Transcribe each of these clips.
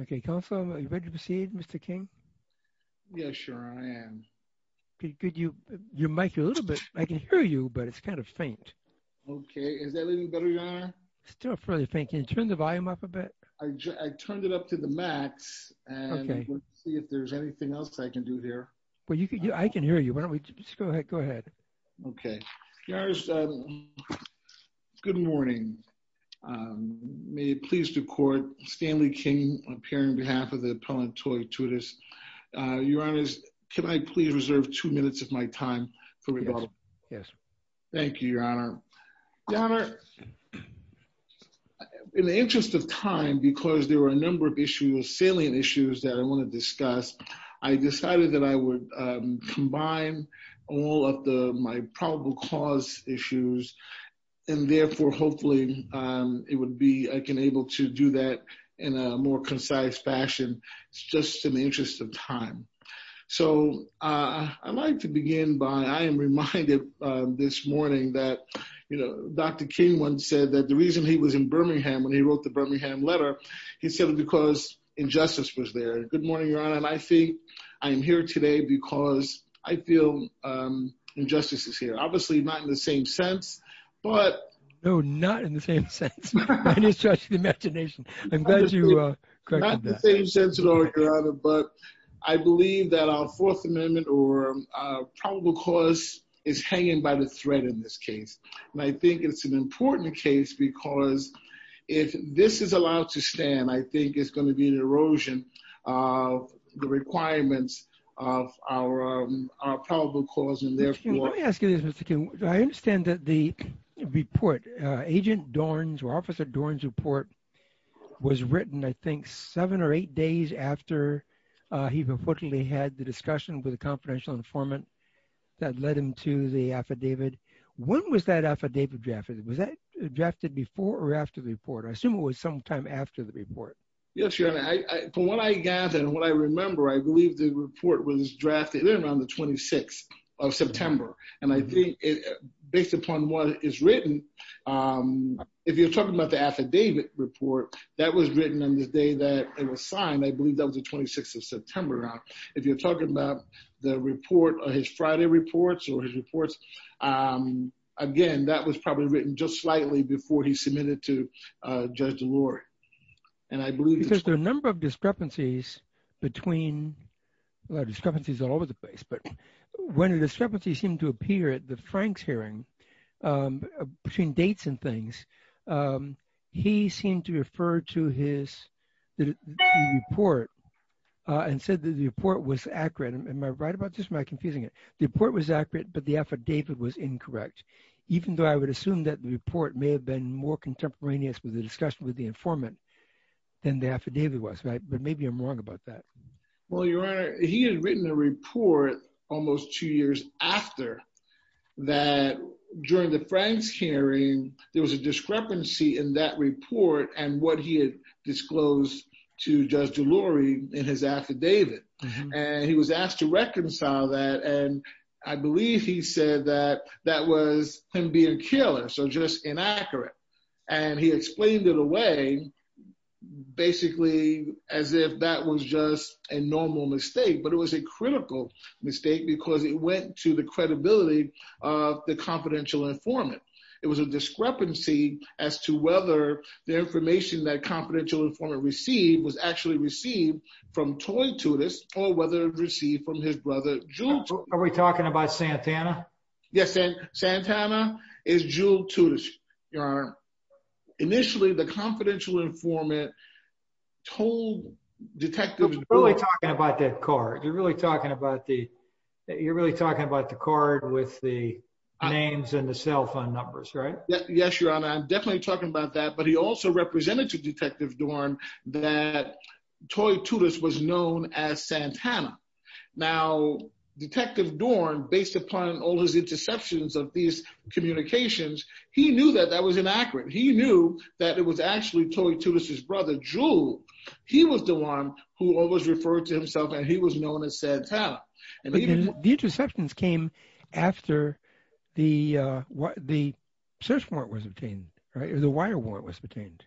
Okay, Councilor, are you ready to proceed, Mr. King? Yes, sir, I am. Okay, good. Your mic is a little bit... I can hear you, but it's kind of faint. Okay, is that any better, Your Honor? It's still fairly faint. Can you turn the volume up a bit? I turned it up to the max, and let's see if there's anything else I can do here. Well, I can hear you. Why don't we just go ahead. Okay. Your Honor, good morning. May it please the Court, Stanley King, appearing on behalf of the Appellant, Tutis. Your Honor, can I please reserve two minutes of my time for rebuttal? Yes. Thank you, Your Honor. Your Honor, in the interest of time, because there are a number of issues, salient issues that I want to discuss, I decided that I would combine all of my probable cause issues, and therefore, hopefully, I would be able to do that in a more concise fashion. It's just in the interest of time. So I'd like to begin by... I am reminded this morning that Dr. King once said that the reason he was in Birmingham, when he wrote the Birmingham letter, he said it was because injustice was there. Good morning, Your Honor. I think I'm here today because I feel injustice is here. Obviously, not in the same sense, but... No, not in the same sense. I didn't judge the imagination. I'm glad you corrected that. Not in the same sense at all, Your Honor, but I believe that our Fourth Amendment or probable cause is hanging by the thread in this case. I think it's an important case because if this is allowed to stand, I think it's going to be an erosion of the requirements of our probable cause, and therefore... Let me ask you this, Mr. King. I understand that the report, Agent Dorn's or Officer Dorn's report was written, I think, seven or eight days after he unfortunately had the discussion with a confidential informant that led him to the report. I assume it was sometime after the report. Yes, Your Honor. From what I gathered and what I remember, I believe the report was drafted around the 26th of September, and I think based upon what is written, if you're talking about the affidavit report, that was written on the day that it was signed. I believe that was the 26th of September. If you're talking about the report or his Friday reports or his reports, again, that was probably written just slightly before he submitted to Judge DeLore, and I believe... Because there are a number of discrepancies between... Well, discrepancies all over the place, but when a discrepancy seemed to appear at the Franks hearing between dates and things, he seemed to refer to his report and said that the report was accurate. Am I right about this? The report was accurate, but the affidavit was incorrect, even though I would assume that the report may have been more contemporaneous with the discussion with the informant than the affidavit was, but maybe I'm wrong about that. Well, Your Honor, he had written a report almost two years after that. During the Franks hearing, there was a discrepancy in that report and what he had disclosed to Judge DeLore in his affidavit, and he was asked to reconcile that, and I believe he said that that was him being careless or just inaccurate, and he explained it away basically as if that was just a normal mistake, but it was a critical mistake because it went to the credibility of the confidential informant. It was a discrepancy as to whether the information that confidential informant received was actually received from toy tutors or whether it was received from his brother. Are we talking about Santana? Yes, Santana is jewel tutors, Your Honor. Initially, the confidential informant told detectives... We're really talking about the card. You're really talking about the card with the names and the cell phone numbers, right? Yes, Your Honor. I'm definitely talking about that, but he also represented to Detective Dorn that toy tutors was known as Santana. Now, Detective Dorn, based upon all his interceptions of these communications, he knew that that was inaccurate. He knew that it was actually toy tutors' brother, Jewel. He was the one who always referred to himself and he was known as Santana. The interceptions came after the search warrant was obtained, right? Or the wire warrant was obtained.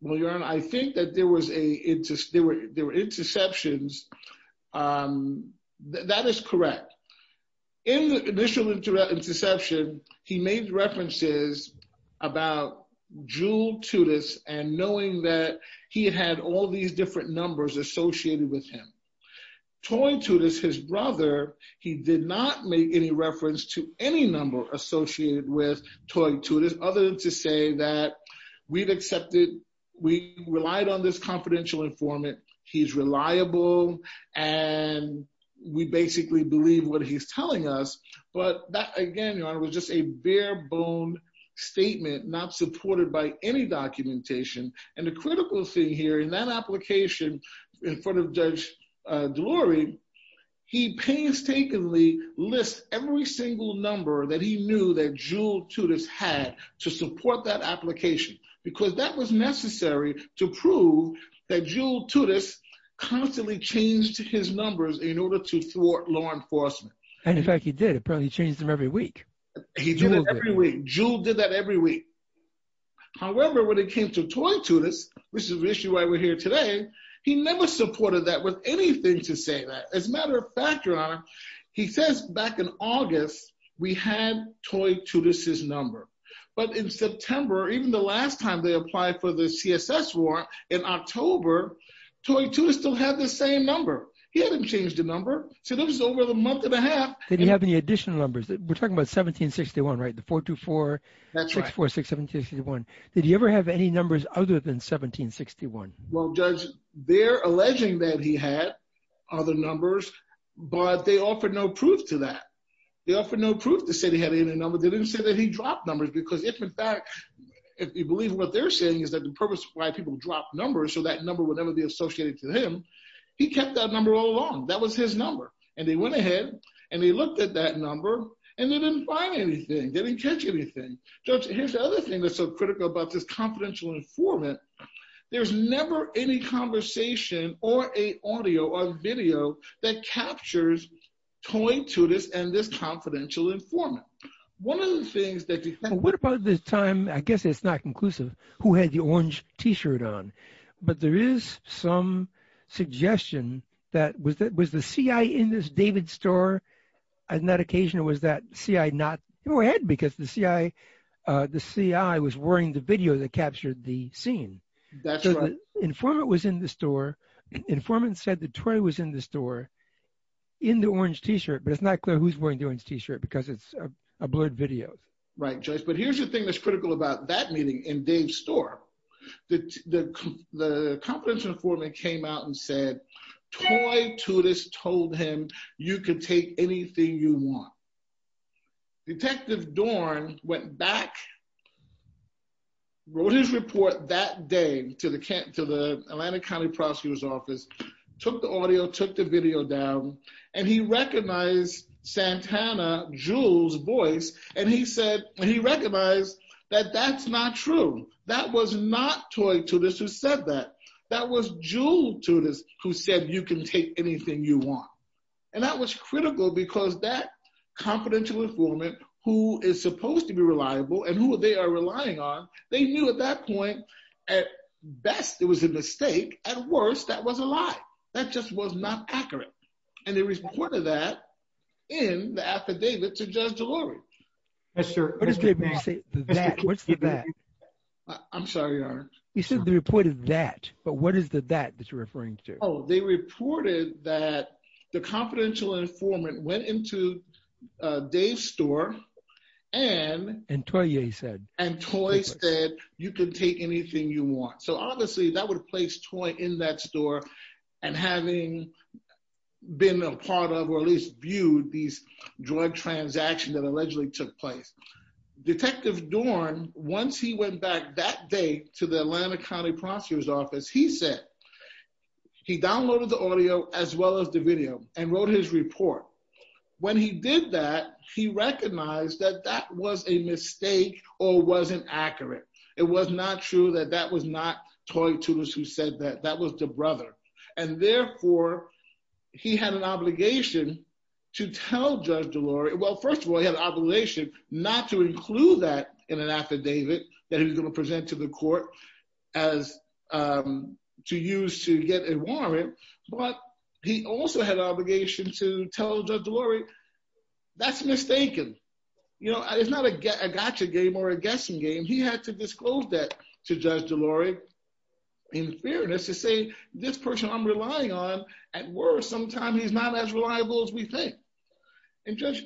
Well, Your Honor, I think that there were interceptions. That is correct. In the initial interception, he made references about Jewel Tutors and knowing that he had had these different numbers associated with him. Toy Tutors, his brother, he did not make any reference to any number associated with Toy Tutors, other than to say that we've accepted... We relied on this confidential informant. He's reliable and we basically believe what he's telling us. But that, again, Your Honor, was just a bare-boned statement not supported by any documentation. And the critical thing here in that application in front of Judge Delorey, he painstakingly lists every single number that he knew that Jewel Tutors had to support that application because that was necessary to prove that Jewel Tutors constantly changed his numbers in order to thwart law enforcement. And in fact, he did. He probably every week. He did it every week. Jewel did that every week. However, when it came to Toy Tutors, which is the issue why we're here today, he never supported that with anything to say that. As a matter of fact, Your Honor, he says back in August, we had Toy Tutors' number. But in September, even the last time they applied for the CSS war, in October, Toy Tutors still had the same number. He hadn't changed the number. So this was over a month and a half. Did he have any additional numbers? We're talking about 1761, right? The 424-646-1761. Did he ever have any numbers other than 1761? Well, Judge, they're alleging that he had other numbers, but they offered no proof to that. They offered no proof. They said he had any number. They didn't say that he dropped numbers because if, in fact, if you believe what they're saying is that the purpose of why people dropped numbers, so that number would never be associated to him, he kept that number all along. That was his number. And they went ahead, and they looked at that number, and they didn't find anything. They didn't catch anything. Judge, here's the other thing that's so critical about this confidential informant. There's never any conversation or a audio or video that captures Toy Tutors and this confidential informant. One of the things that he said- What about this time, I guess it's not conclusive, who had the orange T-shirt on, but there is some suggestion that, was the CI in this David store? On that occasion, was that CI not- Go ahead, because the CI was wearing the video that captured the scene. So the informant was in the store. The informant said the toy was in the store in the orange T-shirt, but it's not clear who's wearing the orange T-shirt because it's a blurred video. Right, Judge, but here's the thing that's critical about that meeting in the confidential informant came out and said, Toy Tutors told him you could take anything you want. Detective Dorn went back, wrote his report that day to the Atlanta County Prosecutor's Office, took the audio, took the video down, and he recognized Santana Jewel's voice, and he said, and he recognized that that's not true. That was not Toy Tutors who said that. That was Jewel Tutors who said you can take anything you want. And that was critical because that confidential informant who is supposed to be reliable and who they are relying on, they knew at that point, at best, it was a mistake. At worst, that was a lie. That just was not accurate. And they reported that in the affidavit to Judge Delorey. I'm sorry, Your Honor. You said they reported that, but what is the that that you're referring to? Oh, they reported that the confidential informant went into Dave's store and Toy said you can take anything you want. So obviously, that would place Toy in that store and having been a part of or at least viewed these drug transactions that allegedly took place. Detective Dorn, once he went back that day to the Atlanta County Prosecutor's Office, he said he downloaded the audio as well as the video and wrote his report. When he did that, he recognized that that was a mistake or wasn't accurate. It was not true that that was not Toy who said that. That was the brother. And therefore, he had an obligation to tell Judge Delorey. Well, first of all, he had an obligation not to include that in an affidavit that he was going to present to the court to use to get a warrant. But he also had an obligation to tell Judge Delorey that's mistaken. It's not a gotcha game or a guessing game. He had to tell Judge Delorey in fairness to say this person I'm relying on, at worst, sometimes he's not as reliable as we think. And just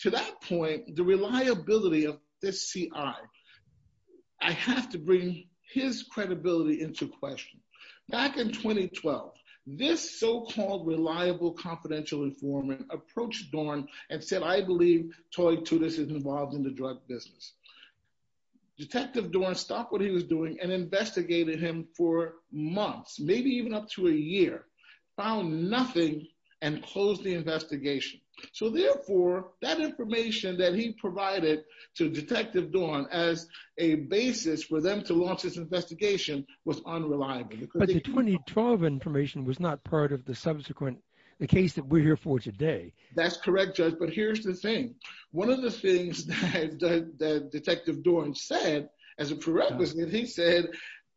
to that point, the reliability of this CI, I have to bring his credibility into question. Back in 2012, this so-called reliable confidential informant approached Dorn and said, I believe Toy Tutis is involved in the drug business. Detective Dorn stopped what he was doing and investigated him for months, maybe even up to a year, found nothing, and closed the investigation. So therefore, that information that he provided to Detective Dorn as a basis for them to launch this investigation was unreliable. But the 2012 information was not part of the subsequent, the case that we're here for today. That's correct, Judge. But here's the thing. One of the things that Detective Dorn said, as a prerequisite, he said,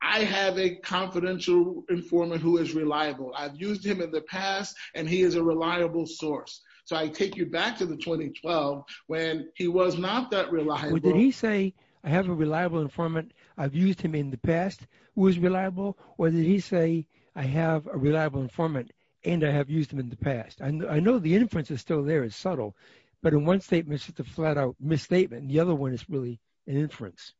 I have a confidential informant who is reliable. I've used him in the past, and he is a reliable source. So I take you back to the 2012, when he was not that reliable. Did he say, I have a reliable informant, I've used him in the past, who is reliable? Or did he say, I have a reliable informant, and I have used him in the past? I know the inference is still there. It's subtle. But in one statement, it's a flat-out misstatement. In the other one, it's really an inference.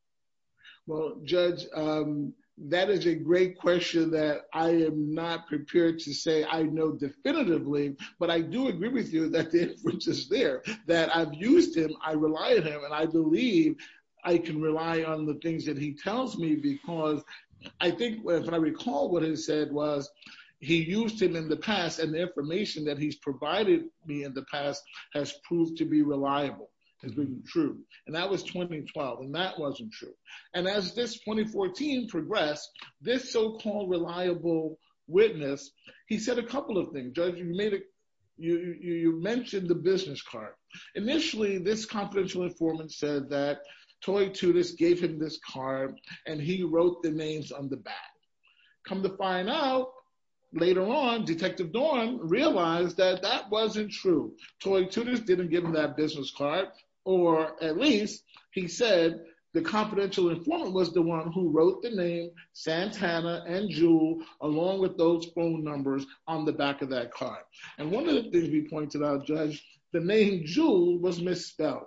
Well, Judge, that is a great question that I am not prepared to say I know definitively. But I do agree with you that the inference is there, that I've used him, I rely on him, and I believe I can rely on the things that he tells me because I think, as I recall, what he said was he used him in the past, and the information that he's provided me in the past has proved to be reliable. It's been true. And that was 2012, and that wasn't true. And as this 2014 progressed, this so-called reliable witness, he said a couple of things. Judge, you mentioned the business card. Initially, this confidential informant said that Toye Tutis gave him this card, and he wrote the names on the back. Come to find out, later on, Detective Dorham realized that that wasn't true. Toye Tutis didn't give him that business card, or at least he said the confidential informant was the one who wrote the name Santana and Jewel along with those phone numbers on the back of that card. And one of the things we pointed out, Judge, the name Jewel was misspelled,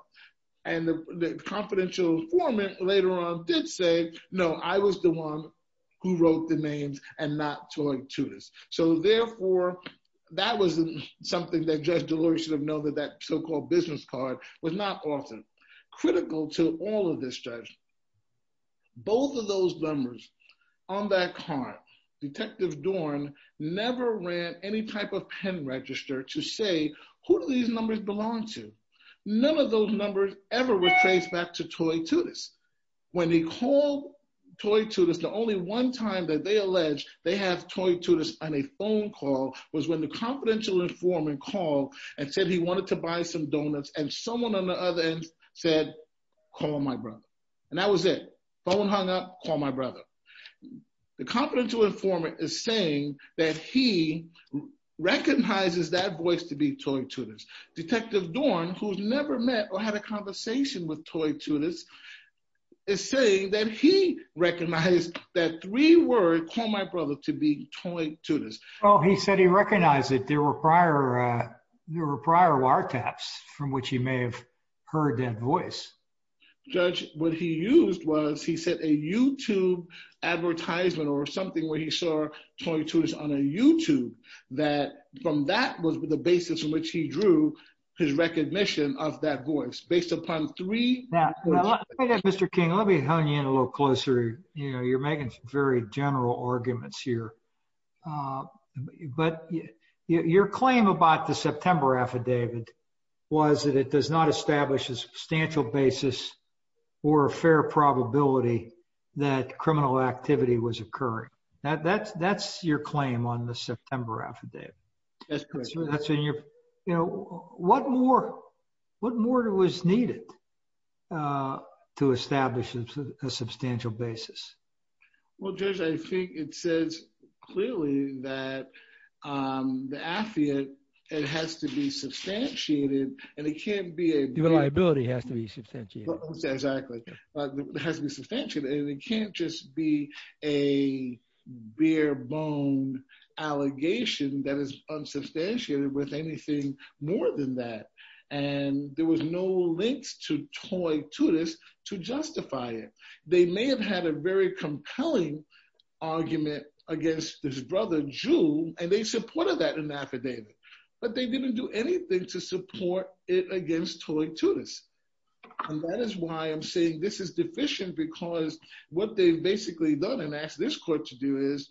and the confidential informant, later on, did say, no, I was the one who wrote the names and not Toye Tutis. So, therefore, that was something that Judge Delury should have known that that so-called business card was not offered. Critical to all of this, Judge, both of those numbers on that card, Detective Dorham never ran any type of registration register to say, who do these numbers belong to? None of those numbers ever were traced back to Toye Tutis. When he called Toye Tutis, the only one time that they allege they have Toye Tutis on a phone call was when the confidential informant called and said he wanted to buy some donuts and someone on the other end said, call my brother. And that was it. Phone hung up, call my brother. The confidential informant is saying that he recognizes that voice to be Toye Tutis. Detective Dorham, who's never met or had a conversation with Toye Tutis, is saying that he recognized that three word, call my brother, to be Toye Tutis. Oh, he said he recognized it. There were prior, there were prior wiretaps from which he may have heard that voice. Judge, what he used was, he said a YouTube advertisement or something where he saw Toye Tutis on a YouTube, that from that was the basis on which he drew his recognition of that voice based upon three... Mr. King, let me hone in a little closer. You know, you're making some very general arguments here. But your claim about the September affidavit was that it does not establish a substantial basis or a fair probability that criminal activity was occurring. That's your claim on the September affidavit. That's correct, sir. That's in your... What more, what more was needed to establish a substantial basis? Well, Judge, I think it says clearly that the affidavit, it has to be substantiated and it can't be a... Reliability has to be substantiated. Exactly. It has to be substantiated and it can't just be a bare bone allegation that is unsubstantiated with anything more than that. And there was no link to Toye Tutis to justify it. They may have had a very compelling argument against his brother, June, and they supported that in the affidavit, but they didn't do anything to support it against Toye Tutis. And that is why I'm saying this is deficient because what they've basically done and asked this court to do is,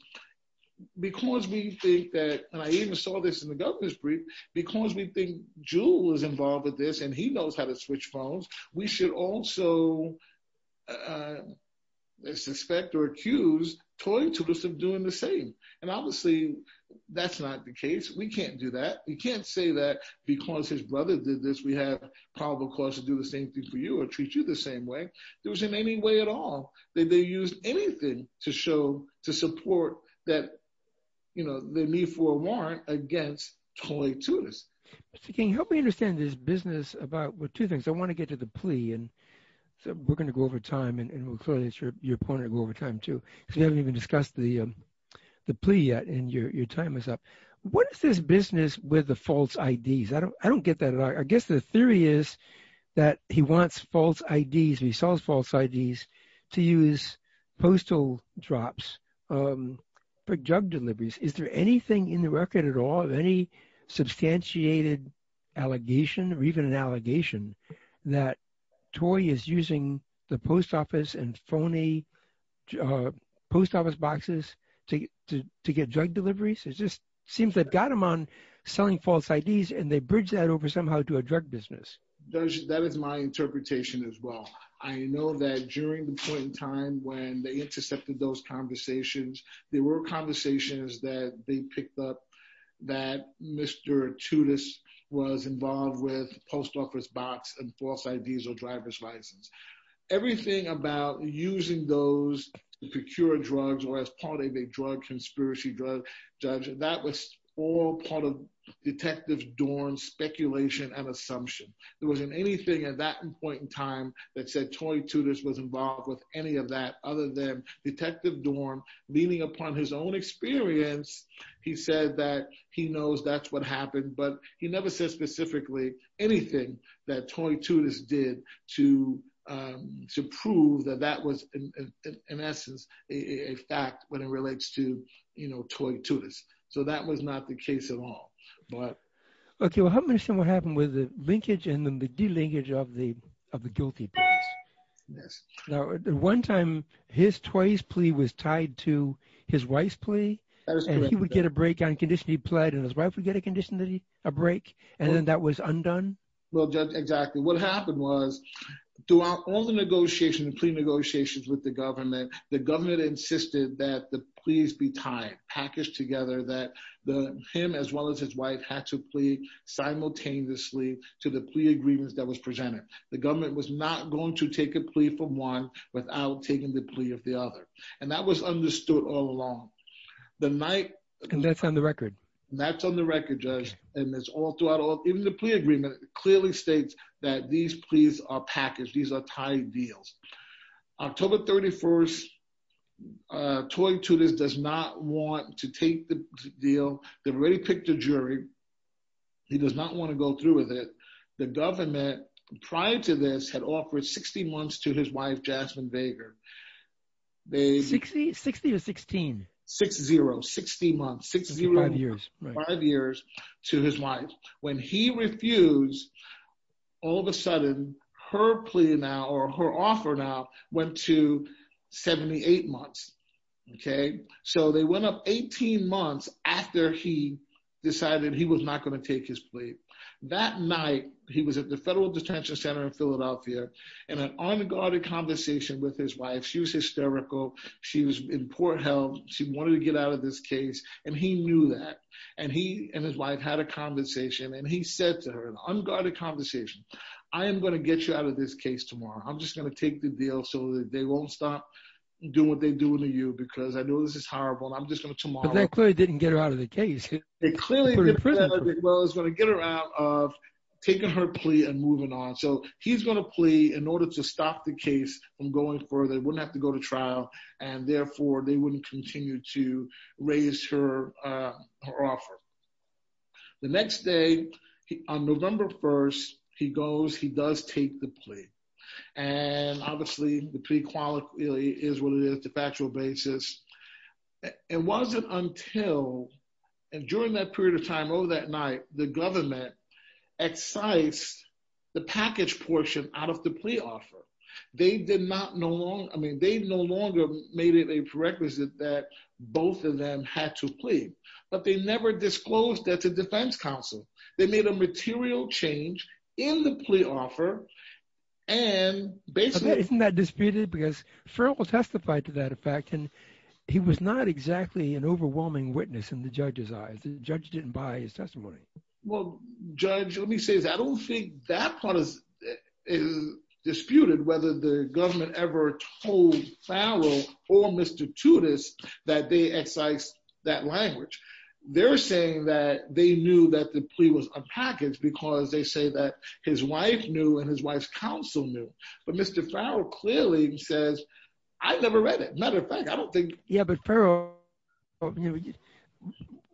because we think that, and I even saw this in the governor's brief, because we think June was involved with this and he knows how to switch phones, we should also respect or accuse Toye Tutis of doing the same. And obviously, that's not the case. We can't do that. We can't say that because his brother did this, we have probable cause to do the same thing for you or treat you the same way. There was in any way at all that they used anything to show, to support that, the need for a warrant against Toye Tutis. Mr. King, help me understand this business about two things. I want to get to the plea and we're going to go over time, and it's your point to go over time too, because we haven't even discussed the plea yet and your time is up. What is this business with the false IDs? I don't get that at all. I guess the theory is that he wants false IDs, he sells false IDs to use postal drops for drug deliveries. Is there anything in the record at all of any substantiated allegation or even an allegation that Toye is using the post office and phony post office boxes to get drug deliveries? It just seems they've got him on selling false IDs and they bridge that over somehow to a drug business. That is my interpretation as well. I know that during the point in time when they intercepted those conversations, there were conversations that they picked up that Mr. Tutis was involved with post office box and false IDs or driver's license. Everything about using those to secure drugs or as part of a drug conspiracy, that was all part of Detective Dorn's speculation and assumption. There wasn't anything at that point in time that said Toye Tutis was involved with any of that other than Detective Dorn, meaning upon his own experience, he said that he knows that's what happened, but he never said specifically anything that Toye Tutis did to prove that that was in essence a fact when it relates to Toye Tutis. That was not the case at all. Okay. Well, help me understand what happened with the linkage and the de-linkage of the guilty. Now, at one time his Toye's plea was tied to his wife's plea and he would get a break on condition he pled and his wife would get a conditionally a break and then that was undone? Well, exactly. What happened was throughout all the negotiations, pre-negotiations with the government, the government insisted that the wife had to plead simultaneously to the plea agreements that was presented. The government was not going to take a plea from one without taking the plea of the other and that was understood all along. And that's on the record? That's on the record. Even the plea agreement clearly states that these pleas are packaged. These are tied deals. October 31st, Toye Tutis does not want to take the deal. They've already picked a jury. He does not want to go through with it. The government, prior to this, had offered 60 months to his wife, Jasmine Baker. 60 or 16? Zero. 60 months. Five years. Five years to his life. When he refused, all of a sudden, her plea now or her offer now went to 78 months. Okay? So they went up 18 months after he decided he was not going to take his plea. That night, he was at the federal detention center in Philadelphia in an unguarded conversation with his wife. She was hysterical. She was in poor health. She wanted to get out of this case and he knew that. And he and his wife had a conversation and he said to her, an unguarded conversation, I am going to get you out of this case tomorrow. I'm just going to take the deal so that they won't stop doing what they're doing to you because I know this is horrible and I'm just going to tomorrow. But that clearly didn't get her out of the case. It clearly didn't get her out of taking her plea and moving on. So he's going to plea in order to stop the case from going further. It wouldn't have to go to trial and therefore, they wouldn't continue to raise her offer. The next day, on November 1st, he goes, he does take the plea. And obviously, the plea quality is what it is, the factual basis. It wasn't until during that period of time, over that night, the government excised the package portion out of the plea offer. They no longer made it a requisite that both of them had to plea. But they never disclosed that to defense counsel. They made a material change in the plea offer. Isn't that disputed? Because Farrell testified to that effect and he was not exactly an overwhelming witness in the judge's eyes. The judge didn't buy his testimony. Well, judge, let me say this. I don't think that part is disputed, whether the government ever told Farrell or Mr. Tudis that they excised that language. They're saying that they knew that the plea was a package because they say that his wife knew and his wife's counsel knew. But Mr. Farrell clearly says, I've never read it. Matter of fact, I don't think- Yeah, but Farrell, you know,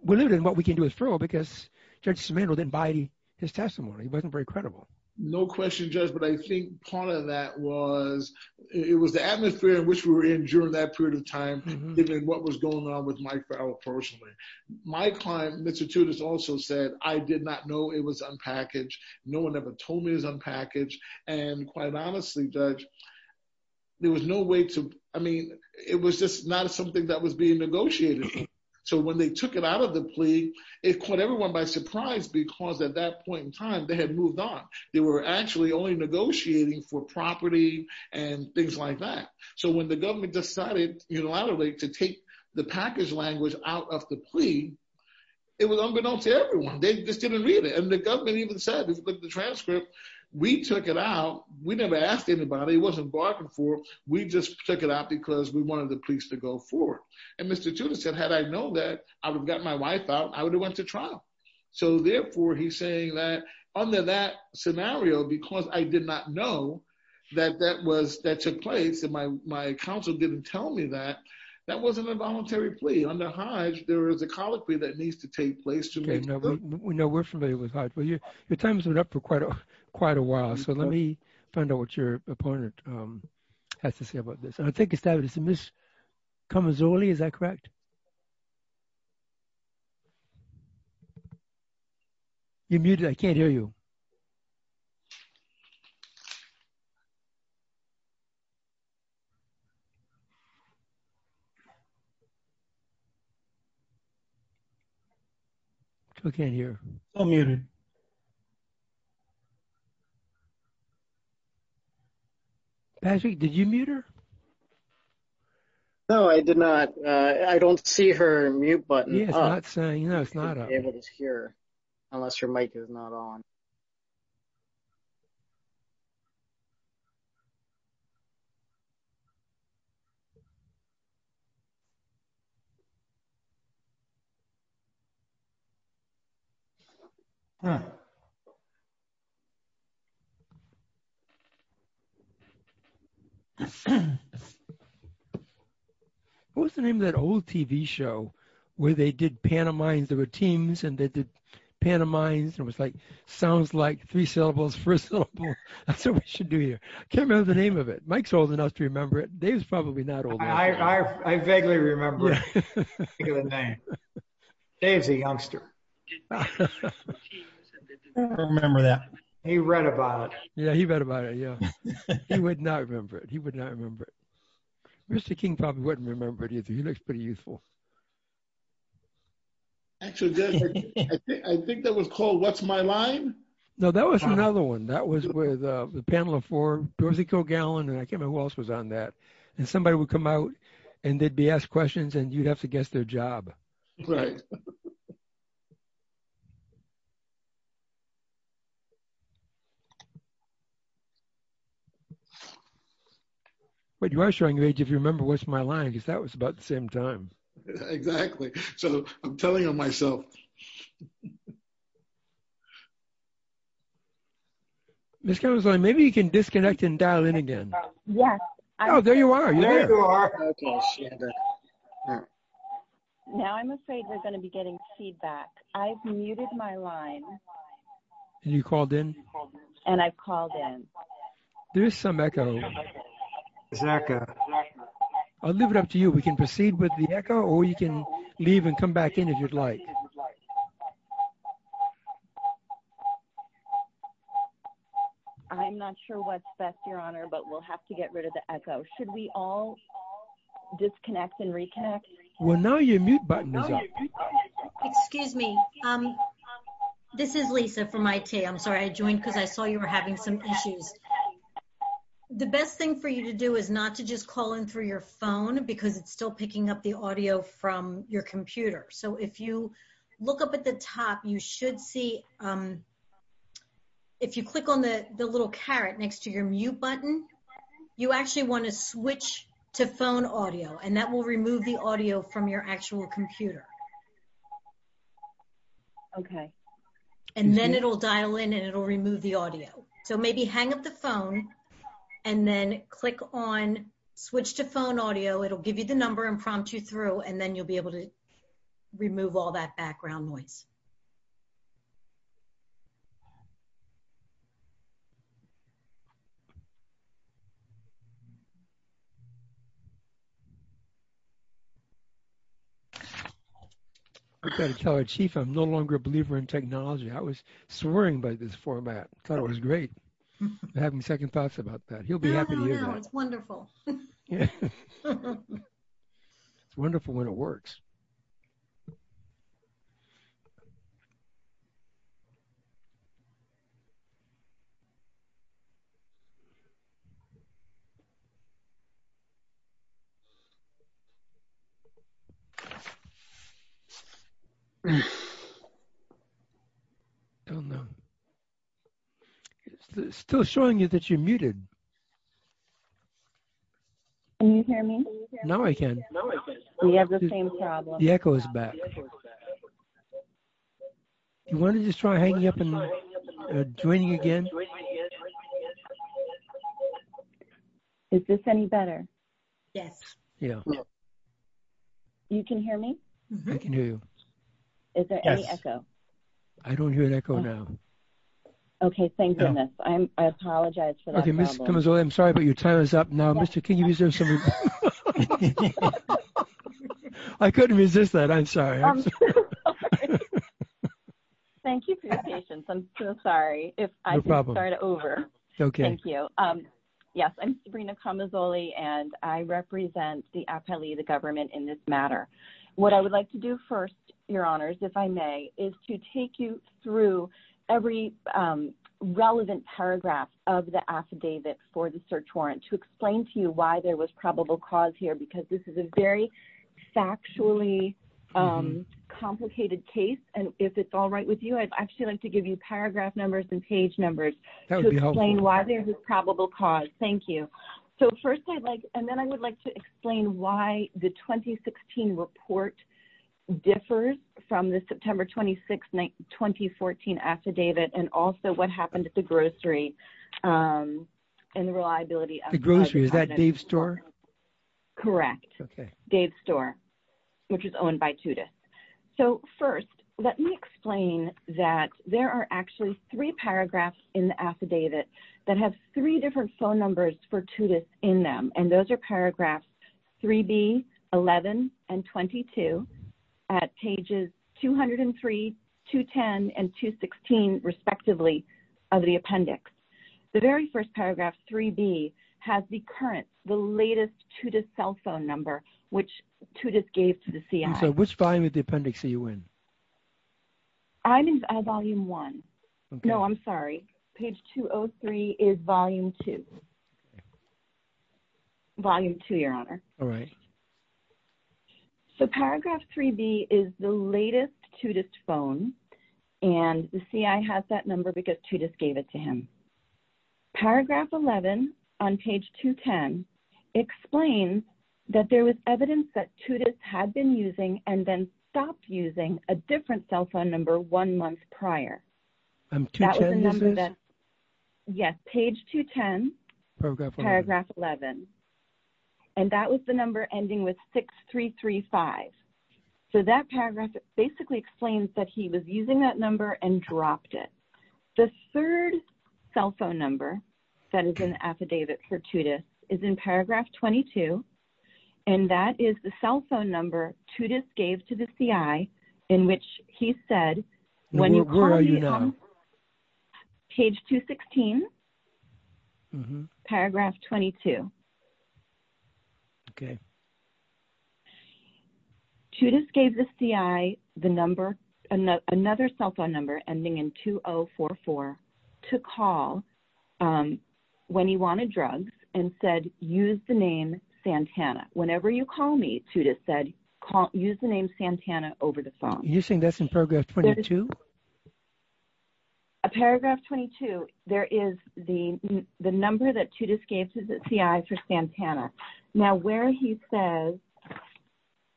we're limited in what we can do with Farrell because Judge Simino didn't buy his testimony. It wasn't very credible. No question, Judge, but I think part of that was, it was the atmosphere in which we were in during that period of time, thinking what was going on with Mike Farrell personally. My client, Mr. Tudis, also said, I did not know it was unpackaged. No one ever told me it was unpackaged. And quite honestly, Judge, there was no way to, I mean, it was just not something that was being negotiated. So when they took it out of the plea, it caught everyone by surprise because at that point in time, they had moved on. They were actually only negotiating for property and things like that. So when the government decided in a lot of ways to take the package language out of the plea, it was unbeknownst to everyone. They just didn't read it. And the government even said, with the transcript, we took it out. We never asked anybody. It wasn't bargained for. We just took it out because we wanted the pleas to go forward. And Mr. Tudis said, had I known that, I would have got my wife out. I would have went to trial. So therefore, he's saying that under that scenario, because I did not know that that took place and my counsel didn't tell me that, that wasn't a voluntary plea. Under Hodge, there is a colloquy that needs to take place. We know we're familiar with Hodge. But in terms quite a while. So let me find out what your opponent has to say about this. And I think it started with Ms. Comazoli, is that correct? You're muted. I can't hear you. I can't hear. Patrick, did you mute her? No, I did not. I don't see her mute button. Unless your mic is not on. What was the name of that old TV show where they did pantomimes? There were teams and they did pantomimes. It was like, sounds like three syllables for a syllable. That's what we should do here. I can't remember the name of it. Mike's old enough to remember it. Dave's probably not old enough. I vaguely remember the name. Dave's a youngster. I don't remember that. He read about it. Yeah, he read about it. Yeah. He would not remember it. He would not remember it. Mr. King probably wouldn't remember it either. He looks pretty youthful. Actually, I think that was called What's My Line? No, that was another one. That was with the panel of four. Dorothy Cogallon and I can't remember who else was on that. And somebody would come out and they'd be asked questions and you'd have to guess their job. You are showing your age if you remember What's My Line, because that was about the same time. Exactly. I'm telling on myself. Ms. Calzone, maybe you can disconnect and dial in again. Oh, there you are. Now I'm afraid we're going to be getting feedback. I've muted my line. You called in? And I've called in. There's some echo. I'll leave it up to you. We can proceed with the echo or you can leave and come back in if you'd like. I'm not sure what's best, Your Honor, but we'll have to get rid of the echo. Should we all disconnect and re-connect? Well, now you're mute buttoned again. Excuse me. This is Lisa from IT. I'm sorry. I joined because I saw you were having some issues. The best thing for you to do is not to just call in through your phone because it's still picking up the audio from your computer. So if you are on the phone and you're having some issues, look up at the top. If you click on the little carrot next to your mute button, you actually want to switch to phone audio, and that will remove the audio from your actual computer. And then it'll dial in and it'll remove the audio. So maybe hang up the phone and then click on switch to phone audio. It'll give you the number and prompt you through, and then you'll be able to remove all that background noise. I've got to tell our chief I'm no longer a believer in technology. I was swearing by this format. I thought it was great having second thoughts about that. He'll be happy to hear that. Wonderful. It's wonderful when it works. Still showing you that you're muted. Can you hear me? Now I can. We have the same problem. The echo is back. Do you want to just try hanging up and joining again? Is this any better? Yes. Yeah. You can hear me? I can hear you. Is there any echo? I don't hear an echo now. Okay. Thank goodness. I apologize for that. I'm sorry, but your time is up now. I couldn't resist that. I'm sorry. Thank you for your patience. I'm so sorry if I can start over. It's okay. Thank you. Yes, I'm Sabrina Camazoli, and I represent the AFL-E, the government in this matter. What I would like to do first, Your Honors, if I may, is to take you through every relevant paragraph of the affidavit for the search warrant to explain to you why there was probable cause here, because this is a very factually complicated case. If it's all right with you, I'd actually like to give you paragraph numbers and page numbers to explain why there's a probable cause. Thank you. Then I would like to explain why the 2016 report differs from the what happened at the grocery and the reliability of- The grocery. Is that Dave's Store? Correct. Dave's Store, which is owned by TUDIS. First, let me explain that there are actually three paragraphs in the affidavit that have three different phone numbers for TUDIS in them. Those paragraphs 3B, 11, and 22 at pages 203, 210, and 216, respectively, of the appendix. The very first paragraph, 3B, has the current, the latest TUDIS cell phone number, which TUDIS gave to the CI. Which volume of the appendix are you in? I'm in volume one. No, I'm sorry. Page 203 is volume two. Volume two, your honor. All right. Paragraph 3B is the latest TUDIS phone, and the CI has that number because TUDIS gave it to him. Paragraph 11 on page 210 explains that there was evidence that TUDIS had been using and then stopped using a different cell phone number one month prior. Page 210, paragraph 11, and that was the number ending with 6335. So, that paragraph basically explains that he was using that number and dropped it. The third cell phone number that is in the affidavit for TUDIS is in paragraph 22, and that is the cell phone number TUDIS gave to the CI in which he said, page 216, paragraph 22. Okay. TUDIS gave the CI another cell phone number ending in 2044 to call when he wanted drugs and said, use the name Santana. Whenever you call me, TUDIS said, use the name Santana over the phone. Using this in paragraph 22? In paragraph 22, there is the number that TUDIS gave to the CI for Santana. Now, where he says,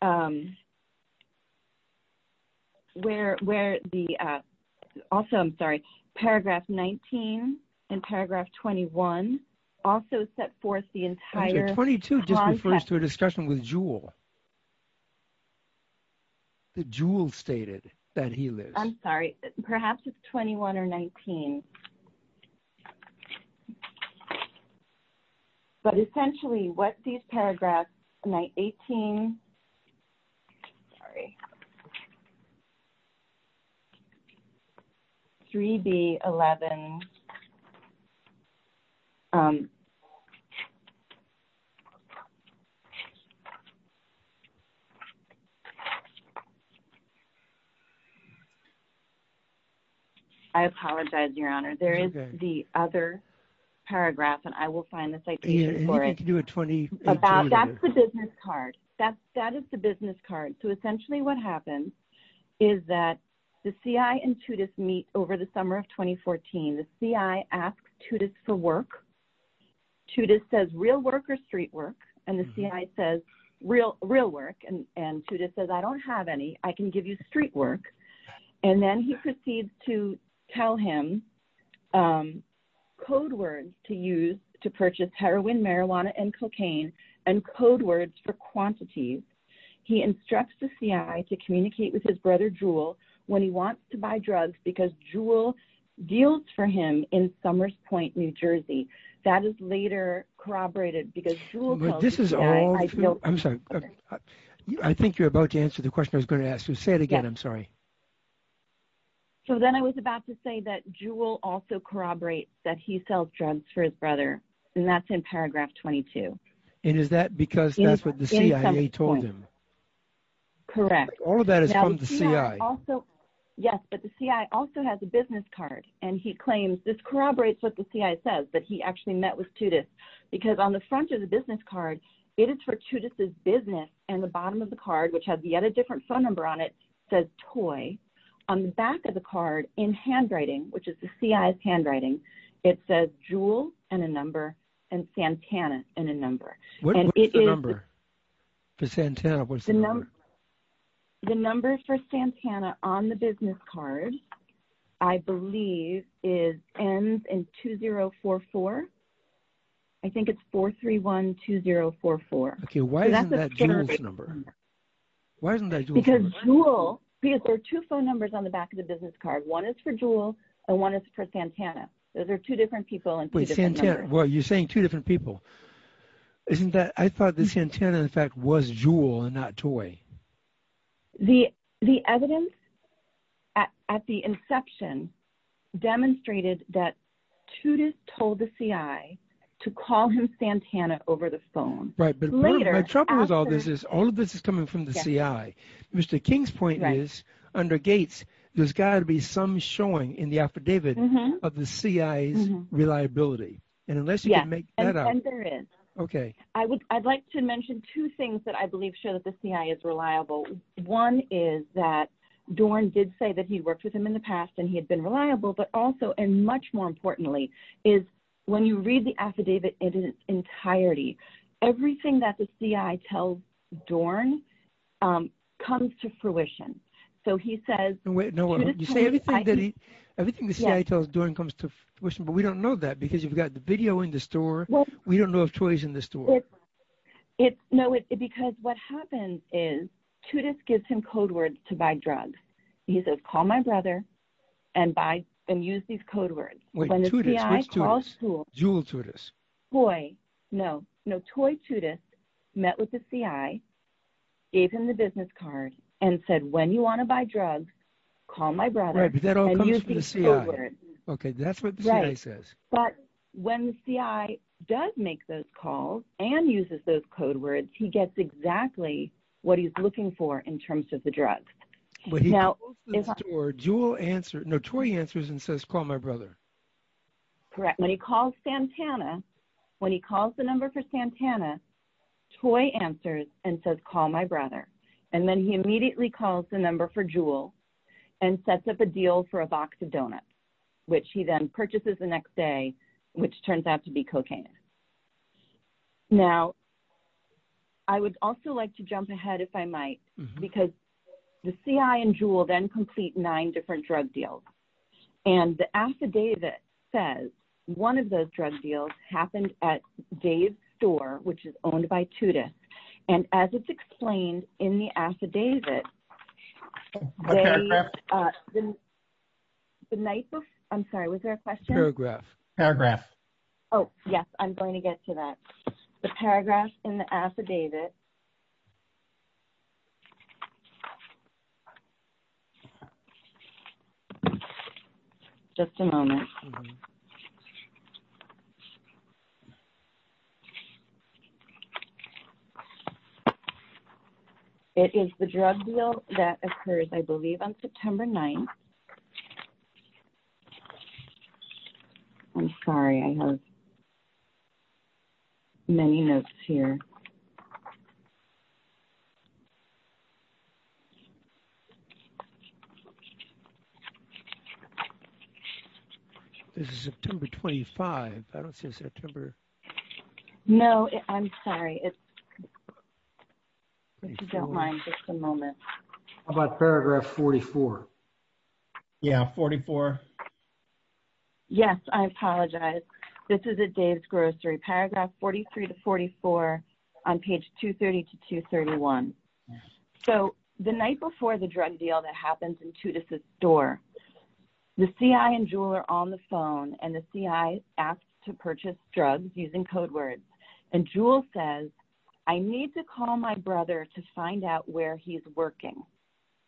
um, where the, also, I'm sorry, paragraph 19 and paragraph 21 also set forth the entire- Okay, 22 just refers to a discussion with Jewel. That Jewel stated that he was- I'm sorry. Perhaps it's 21 or 19. Okay. But essentially, what these paragraphs, my 18, sorry, 3B11, um, I apologize, Your Honor. There is the other paragraph, and I will find the citation for it. You need to do a 20- That's the business card. That is the business card. So, essentially, what happens is that the CI and TUDIS meet over the summer of 2014. The CI asks TUDIS for work. TUDIS says, real work or street work? And the CI says, real work. And TUDIS says, I don't have any. I can give you street work. And then he proceeds to tell him code words to use to purchase heroin, marijuana, and cocaine, and code words for quantities. He instructs the CI to communicate with his brother, Jewel, when he wants to buy drugs, because Jewel deals for him in Summers Point, New Jersey. That is later corroborated because- But this is all- I'm sorry. I think you're about to answer the question I was going to ask, so say it again. I'm sorry. So then I was about to say that Jewel also corroborates that he sells drugs for his brother, and that's in paragraph 22. And is that because that's what the CIA told him? Correct. All that is from the CI. Yes, but the CI also has a business card, and he claims this corroborates what the CI says, that he actually met with TUDIS. Because on the front of the business card, it is for TUDIS's business, and the bottom of the card, which has yet a different phone number on it, says Toy. On the back of the card, in handwriting, which is the CI's handwriting, it says Jewel in a number, and Santana in a number. What's the number? The Santana, what's the number? The number for Santana on the business card, I believe, ends in 2044. I think it's 431-2044. Okay, why isn't that Jewel's number? Why isn't that Jewel's number? Because Jewel- because there are two phone numbers on the back of the business card. One is for Jewel, and one is for Santana. Those are two different people and two different numbers. Well, you're saying two different people. I thought the Santana, in fact, was Jewel and not Toy. The evidence at the inception demonstrated that TUDIS told the CI to call him Santana over the phone. Right, but my trouble with all this is, all of this is coming from the CI. Mr. King's point is, under Gates, there's got to be some showing in the affidavit of the CI's reliability. I'd like to mention two things that I believe show that the CI is reliable. One is that Dorn did say that he worked with him in the past and he had been reliable, but also, and much more importantly, is when you read the affidavit in its entirety, everything that the CI tells Dorn comes to fruition. Everything the CI tells Dorn comes to fruition, but we don't know that, because you've got the video in the store. We don't know if Toy's in the store. Because what happens is, TUDIS gives him code words to buy drugs. He says, call my brother and use these code words. Wait, TUDIS, who's TUDIS? Jewel TUDIS. Boy, no. No, Toy TUDIS met with the CI, gave him the business card, and said, when you want to buy drugs, call my brother. Right, but that all comes from the CI. Okay, that's what the CI says. But when the CI does make those calls and uses those code words, he gets exactly what he's looking for in terms of the drugs. But he goes to the store, Jewel answers, no, Toy answers and says, call my brother. Correct. When he calls Santana, when he calls the number for Santana, Toy answers and says, call my brother. And then he immediately calls the number for Jewel and sets up a deal for a box of donuts, which he then purchases the next day, which turns out to be cocaine. Now, I would also like to jump ahead, if I might, because the CI and Jewel then complete nine different drug deals. And the affidavit says, one of those drug deals happened at Dave's store, which is owned by TUDIS. And as it's explained in the affidavit, I'm sorry, was there a question? Paragraph. Paragraph. Oh, yes, I'm going to get to that. The paragraph in the affidavit, just a moment. It is the drug deal that occurred, I believe, on September 9th. I'm sorry, I have many notes here. This is September 25th. I don't see September. No, I'm sorry. If you don't mind, just a moment. How about paragraph 44? Yeah, 44. Yes, I apologize. This is at Dave's grocery. Paragraph 43 to 44 on page 230 to 231. So the night before the drug deal that happens in TUDIS' store, the CI and Jewel are on the phone, and the CI asks to purchase drugs using code words. And Jewel says, I need to call my brother to find out where he's working.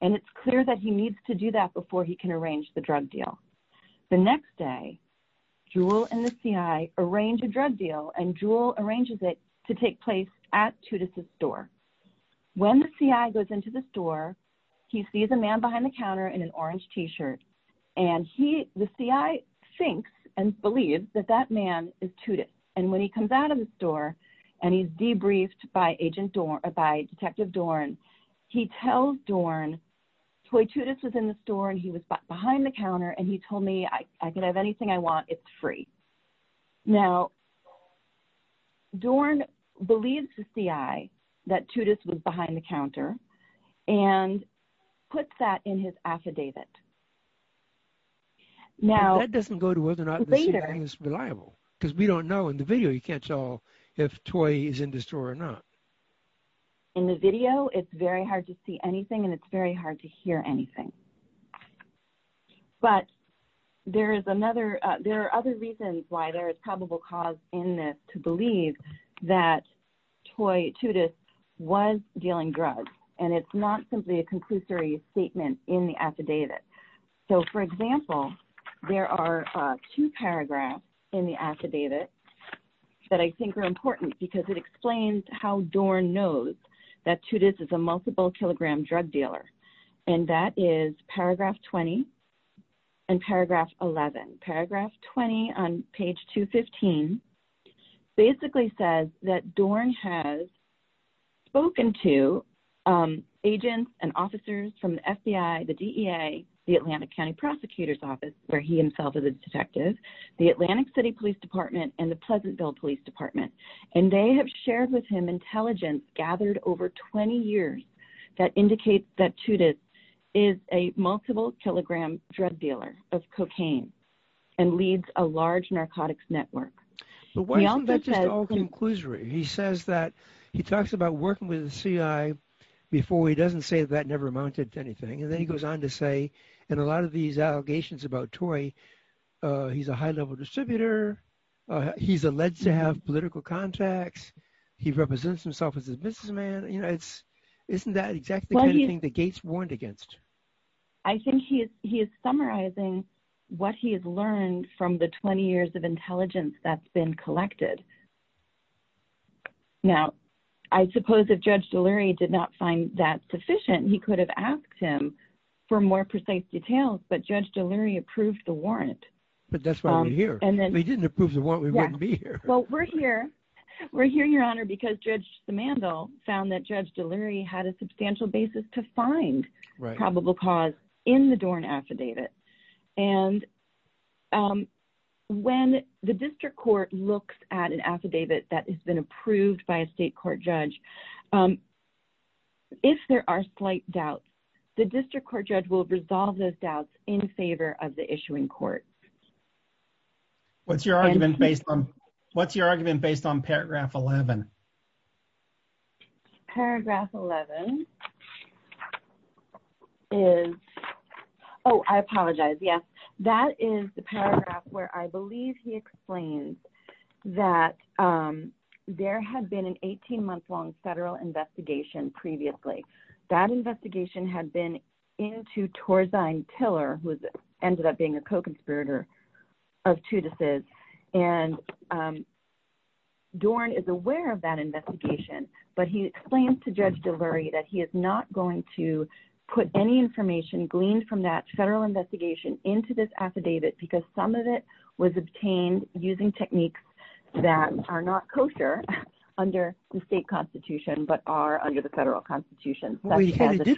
And it's clear that he needs to do that before he can arrange the drug deal. The next day, Jewel and the CI arrange a drug deal, and Jewel arranges it to take place at TUDIS' store. When the CI goes into the store, he sees a man behind the counter in an orange T-shirt, and the CI thinks and believes that that man is TUDIS. And when he comes out of the store, and he's debriefed by Detective Dorn, he tells Dorn, Toy TUDIS was in the store, and he was behind the counter, and he told me, I can have anything I want. It's free. Now, Dorn believes the CI that TUDIS was behind the counter, and puts that in his affidavit. Now, that doesn't go to whether or not the CI is reliable, because we don't know in the video. You can't tell if Toy is in the store or not. In the video, it's very hard to see anything, and it's very hard to hear anything. But there are other reasons why there is probable cause in this to believe that Toy TUDIS was dealing drugs, and it's not simply a conclusory statement in the affidavit. So, for example, there are two paragraphs in the affidavit that I think are important, because it explains how Dorn knows that TUDIS is a multiple kilogram drug dealer, and that is paragraph 20 and paragraph 11. Paragraph 20 on page 215 basically says that Dorn has spoken to agents and officers from the FBI, the DEA, the Atlanta County Prosecutor's Office, where he himself is a detective, the Atlantic City Police Department, and the Pleasant and they have shared with him intelligence gathered over 20 years that indicates that TUDIS is a multiple kilogram drug dealer of cocaine and leads a large narcotics network. He says that he talks about working with the CI before he doesn't say that never amounted to anything, and then he goes on to say in a lot of these allegations about Toy, he's a high-level distributor, he's alleged to have political contacts, he represents himself as a businessman, you know, it's isn't that exactly the kind of thing that Gates warned against? I think he is summarizing what he has learned from the 20 years of intelligence that's been collected. Now, I suppose if Judge Delury did not find that sufficient, he could have asked him for more precise details, but Judge Delury approved the warrant. But that's why we're here. If we didn't approve the warrant, we wouldn't be here. Well, we're here. We're here, Your Honor, because Judge Simando found that Judge Delury had a substantial basis to find probable cause in the Dorn affidavit. And when the district court looks at an affidavit that has been approved by a state court judge, if there are slight doubts, the district court judge will resolve those doubts in favor of the issuing court. What's your argument based on, what's your argument based on paragraph 11? Paragraph 11 is, oh, I apologize. Yes, that is the paragraph where I believe he explains that there had been an 18-month-long federal investigation previously. That investigation had been into Torzine Tiller, who ended up being a co-conspirator of Tudis' and Dorn is aware of that investigation, but he explains to Judge Delury that he is not going to put any information gleaned from that federal investigation into this affidavit because some was obtained using techniques that are not kosher under the state constitution, but are under the federal constitution. He said he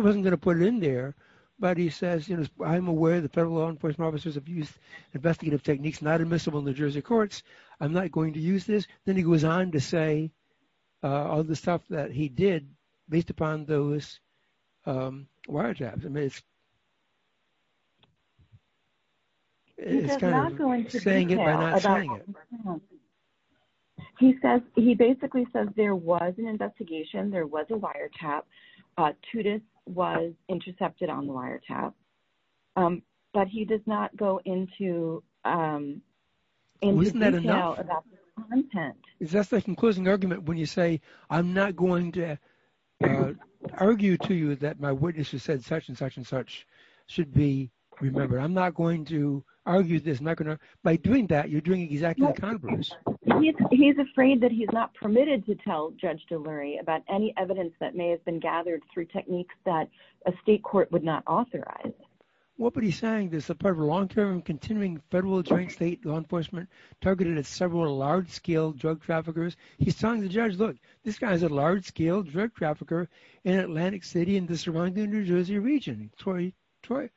wasn't going to put it in there, but he says, you know, I'm aware the federal law enforcement officers have used investigative techniques not admissible in the Jersey courts. I'm not going to use this. Then he goes on to say all the stuff that he did based upon those wiretaps. He does not go into detail. He basically says there was an investigation. There was a wiretap. Tudis was intercepted on the wiretap, but he does not go into detail about the content. Is that the concluding argument when you say, I'm not going to argue to you that my witness has said such and such and such should be remembered? I'm not going to argue this. By doing that, you're doing exactly the opposite. He's afraid that he's not permitted to tell Judge Delury about any evidence that may have been gathered through techniques that a state court would not authorize. What he's saying is a part of a long-term continuing federal joint state law enforcement targeted at several large-scale drug traffickers. He's telling the judge, look, this guy's a large-scale drug trafficker in Atlantic City and the surrounding New Jersey region. I'm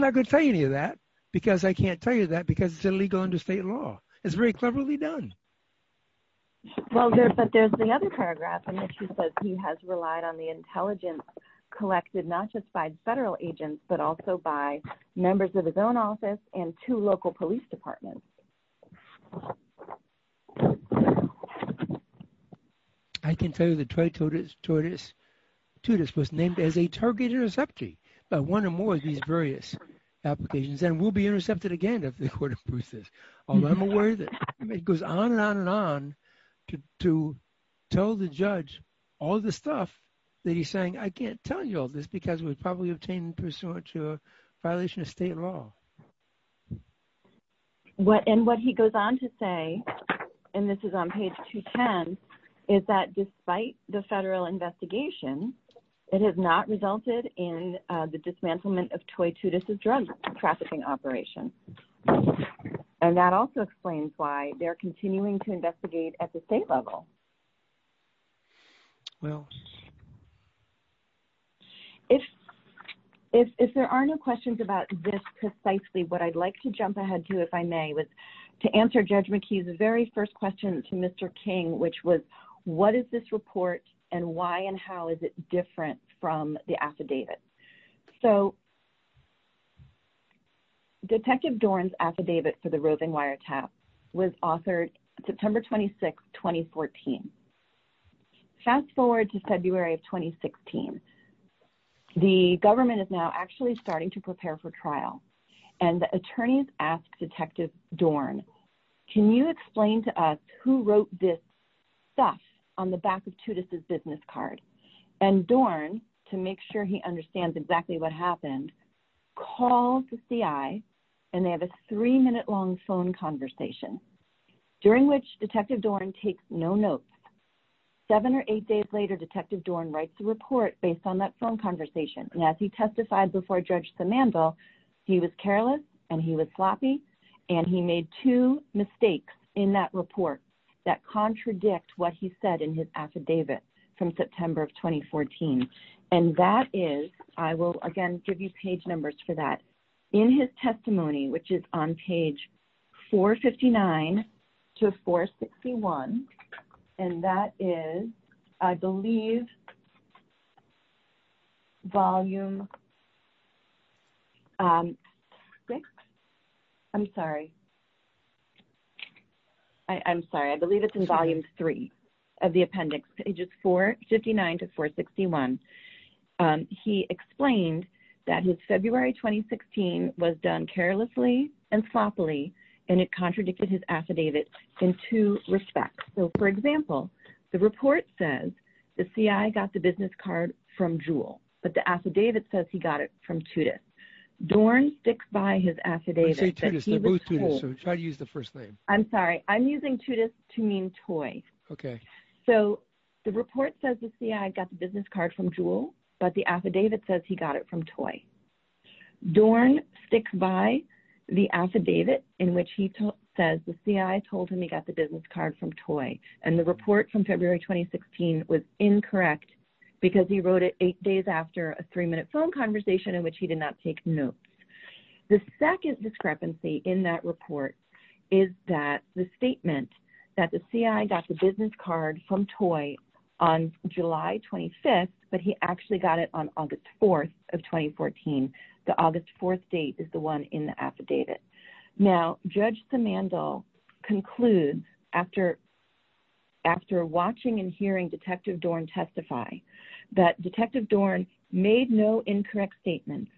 not going to tell you that because I can't tell you that because it's illegal under state law. It's very cleverly done. There's the other paragraph in which he says he has relied on the intelligence collected not just by federal agents but also by members of his own office and two local police departments. I can tell you the Tortoise Tutus was named as a targeted reception by one or more of these various applications and will be intercepted again if the court approves this. It goes on and on and on to tell the judge all the stuff that he's saying, I can't tell you all this because it was probably obtained pursuant to a violation of state law. And what he goes on to say, and this is on page 210, is that despite the federal investigation, it has not resulted in the dismantlement of Tortoise Tutus' drug trafficking operations. And that also explains why they're continuing to investigate at the state level. If there are no questions about this precisely, what I'd like to jump ahead to, if I may, to answer Judge McKee's very first question to Mr. King, which was, what is this report and why and how is it different from the affidavit? So Detective Dorn's affidavit for the roving wiretap was authored September 26, 2014. Fast forward to February of 2016. The government is now actually starting to prepare for trial and the attorneys ask Detective Dorn, can you explain to us who wrote this stuff on the back of Tutus' business card? And Dorn, to make sure he understands exactly what happened, calls the CI and they have a three minute long phone conversation during which Detective Dorn takes no notes. Seven or eight days later, Detective Dorn writes the report based on that phone conversation. And as he testified before Judge Simando, he was careless and he was sloppy and he made two mistakes in that report that contradict what he said in his affidavit from September of 2014. And that is, I will again give you page numbers for that. In his testimony, which is on page 459 to 461, and that is, I believe, volume six. I'm sorry. I'm sorry. I believe it's in volume three of the appendix, pages 459 to 461. He explained that his February 2016 was done carelessly and sloppily and it contradicted his affidavit in two respects. So, for example, the report says the CI got the business card from Jewel, but the affidavit says he got it from Tutus. Dorn sticks by his affidavit. Let's say Tutus. They're both Tutus. Try to use the first name. I'm sorry. I'm using Tutus to mean toy. Okay. So, the report says the CI got the business card from Jewel, but the affidavit says he got it from Toy. Dorn sticks by the affidavit in which he says the CI told him he got the business card from Toy. And the report from February 2016 was incorrect because he wrote it eight days after a three-minute phone conversation in which he did not take notes. The second discrepancy in that from Toy on July 25th, but he actually got it on August 4th of 2014. The August 4th date is the one in the affidavit. Now, Judge Simandl concludes after watching and hearing Detective Dorn testify that Detective Dorn made no incorrect statements.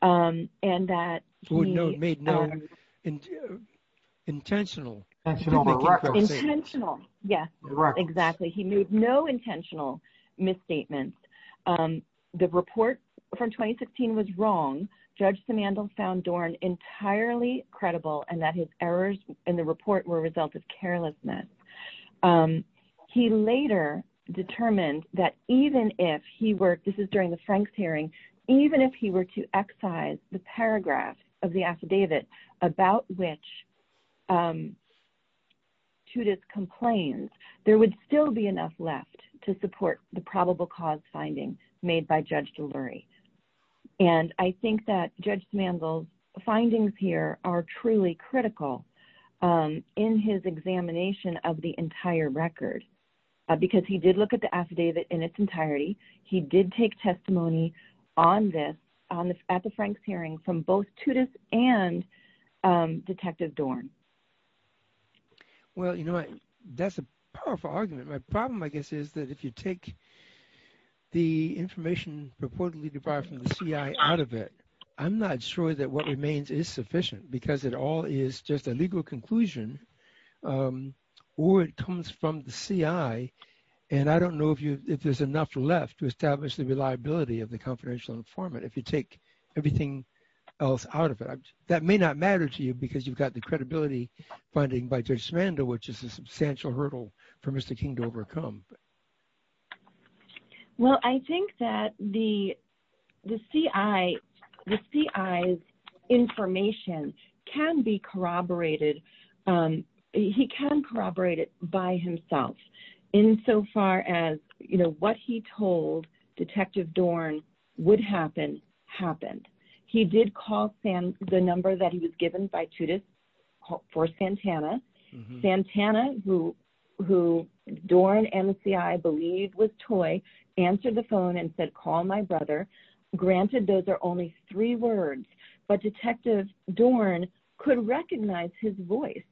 And that he made no intentional misstatements. Intentional. Yes. Correct. Exactly. He made no intentional misstatements. The report from 2016 was wrong. Judge Simandl found Dorn entirely credible and that his errors in the report were a result of carelessness. He later determined that even if he were, this is during the Frank's hearing, even if he were to excise the paragraph of the affidavit about which Tudas complains, there would still be enough left to support the probable cause finding made by Judge Delury. And I think that Judge Simandl's findings here are truly critical in his examination of the entire record. Because he did look at the affidavit in its entirety. He did take testimony on this at the Frank's hearing from both Tudas and Detective Dorn. Well, you know, that's a powerful argument. My problem, I guess, is that if you take the information purportedly derived from the CI out of it, I'm not sure that what remains is sufficient because it all is just a legal conclusion or it comes from the CI. And I don't know if there's enough left to establish the reliability of the confidential informant if you take everything else out of it. That may not matter to you because you've got the credibility finding by Judge Simandl, which is a substantial hurdle for Mr. King to overcome. Well, I think that the CI's information can be corroborated. He can corroborate it by himself insofar as, you know, what he told Detective Dorn would happen, happened. He did call the number that he was given by Tudas for Santana. Santana, who Dorn and the CI believe was Toy, answered the phone and said, call my brother. Granted, those are only three words, but Detective Dorn could recognize his voice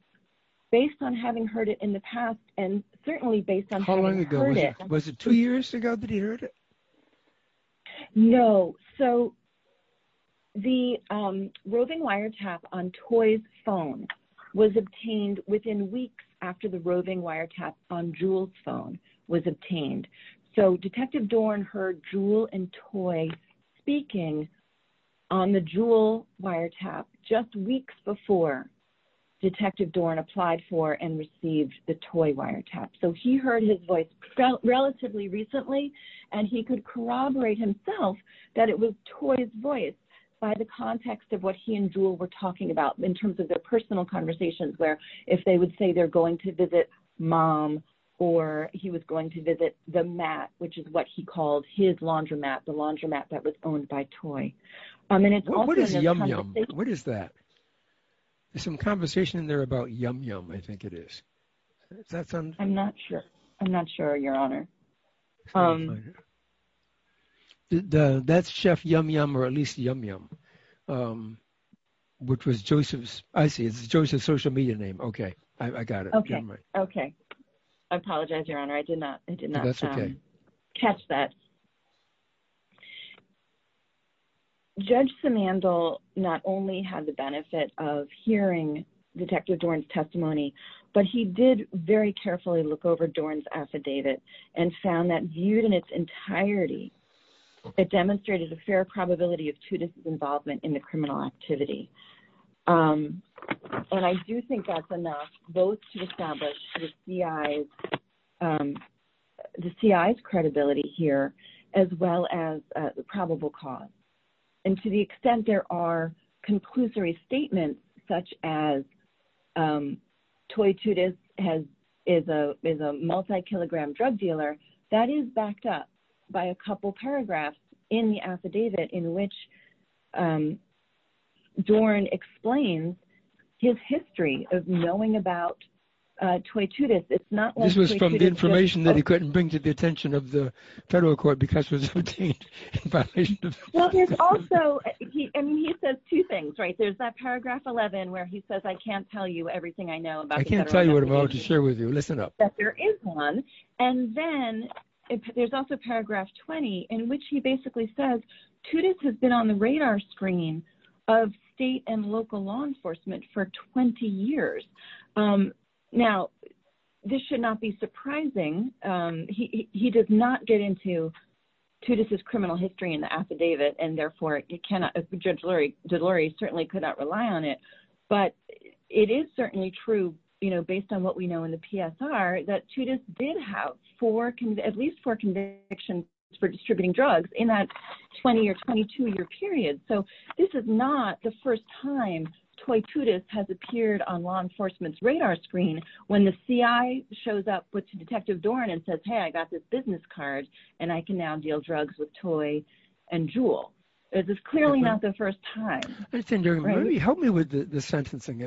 based on having heard it in the past and certainly based on how he heard it. Was it two years ago that he heard it? No. So, the roving wiretap on Toy's phone was obtained within weeks after the roving wiretap on Jewel's phone was obtained. So, Toy was speaking on the Jewel wiretap just weeks before Detective Dorn applied for and received the Toy wiretap. So, he heard his voice relatively recently and he could corroborate himself that it was Toy's voice by the context of what he and Jewel were talking about in terms of their personal conversations where if they would say they're going to visit Mom or he was going to visit the mat, which is what he called his laundromat, the laundromat that was owned by Toy. What is that? There's some conversation in there about Yum Yum, I think it is. I'm not sure. I'm not sure, Your Honor. That's Chef Yum Yum or at least Yum Yum, which was Joseph's social media name. Okay, I got it. Okay. I apologize, Your Honor. I did not catch that. Judge Simandl not only had the benefit of hearing Detective Dorn's testimony, but he did very carefully look over Dorn's affidavit and found that viewed in its entirety, it demonstrated a fair probability of Tudor's involvement in the criminal activity. And I do think that's enough both to establish the CI's credibility here as well as the probable cause. And to the extent there are conclusory statements such as Toy Tudor is a multi-kilogram drug dealer, that is backed up by a couple paragraphs in the affidavit in which Dorn explains his history of knowing about Toy Tudor. This was from the information that he couldn't bring to the attention of the federal court because it was obtained in violation of... Well, there's also... I mean, he says two things, right? There's that paragraph 11, where he says, I can't tell you everything I know about... I can't tell you what I'm about to share with you. Listen up. There is one. And then there's also paragraph 20 in which he basically says, Tudor has been on the radar screen of state and local law enforcement for 20 years. Now, this should not be surprising. He does not get into Tudor's criminal history in the affidavit and therefore it cannot... Judge Delorey certainly could not rely on it, but it is certainly true based on what we know in the PSR that Tudor did have at least four convictions for distributing drugs in that 20 or 22 year period. So this is not the first time Toy Tudor has appeared on law enforcement's radar screen when the CI shows up with Detective Dorn and says, hey, I got this business card and I can now deal drugs with Toy and Jewel. It is clearly not the first time. Help me with the sentencing.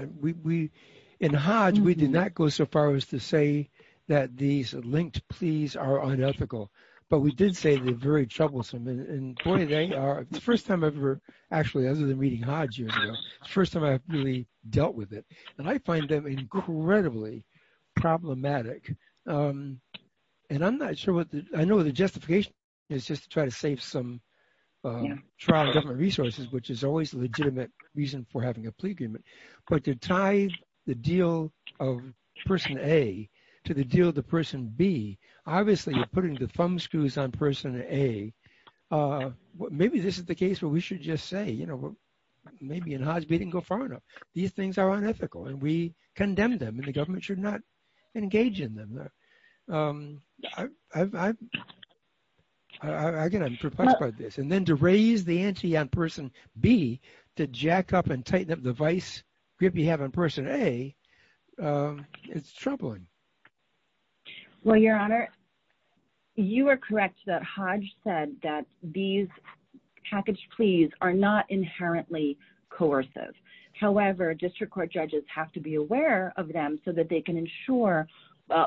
In Hodge, we did not go so far as to say that these linked pleas are unethical, but we did say they're very troublesome. The first time ever, actually, other than meeting Hodge, the first time I really dealt with it. And I find them incredibly problematic. And I'm not sure what the... I know the justification is just to try to save some trial government resources, which is always a legitimate reason for having a plea agreement, but to tie the deal of person A to the deal of the person B, obviously you're putting the thumbscrews on person A. Maybe this is the case where we should just say, maybe in Hodge, we didn't go far enough. These things are unethical and we condemn them and the government should not engage in them. I've got to reflect on this. And then to raise the ante on person B, to jack up and tighten up the vice grip you have on person A, it's troubling. Well, Your Honor, you are correct that Hodge said that these package pleas are not inherently coercive. However, district court judges have to be aware of them so that they can ensure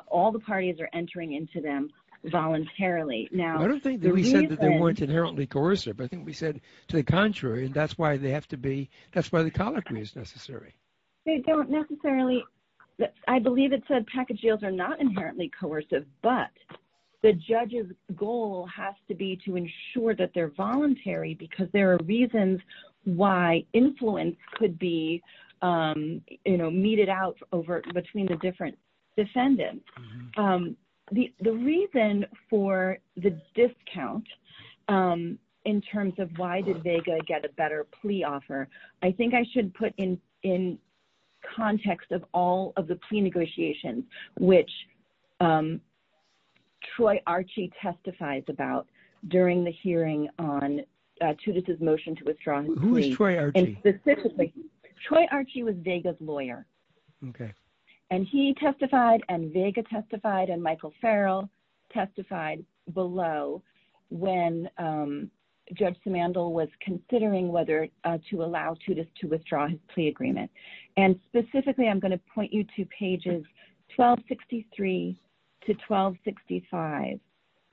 all the parties are entering into them voluntarily. I don't think that we said that they weren't inherently coercive. I think we said to the contrary, and that's why they have to be... That's why the colloquy is necessary. They don't necessarily... I believe it said package deals are not inherently coercive, but the judge's goal has to be to ensure that they're voluntary because there are reasons why influence could be meted out between the different defendants. The reason for the discount in terms of why did Vega get a better plea offer, I think I should put in context of all of the plea negotiations, which Troy Archie testifies about during the hearing on Tudis' motion to withdraw his plea. Who is Troy Archie? And specifically, Troy Archie was Vega's lawyer. Okay. And he testified and Vega testified and Michael Farrell testified below when Judge Simandl was considering whether to allow Tudis to withdraw his plea agreement. And specifically, I'm going to point you to pages 1263 to 1265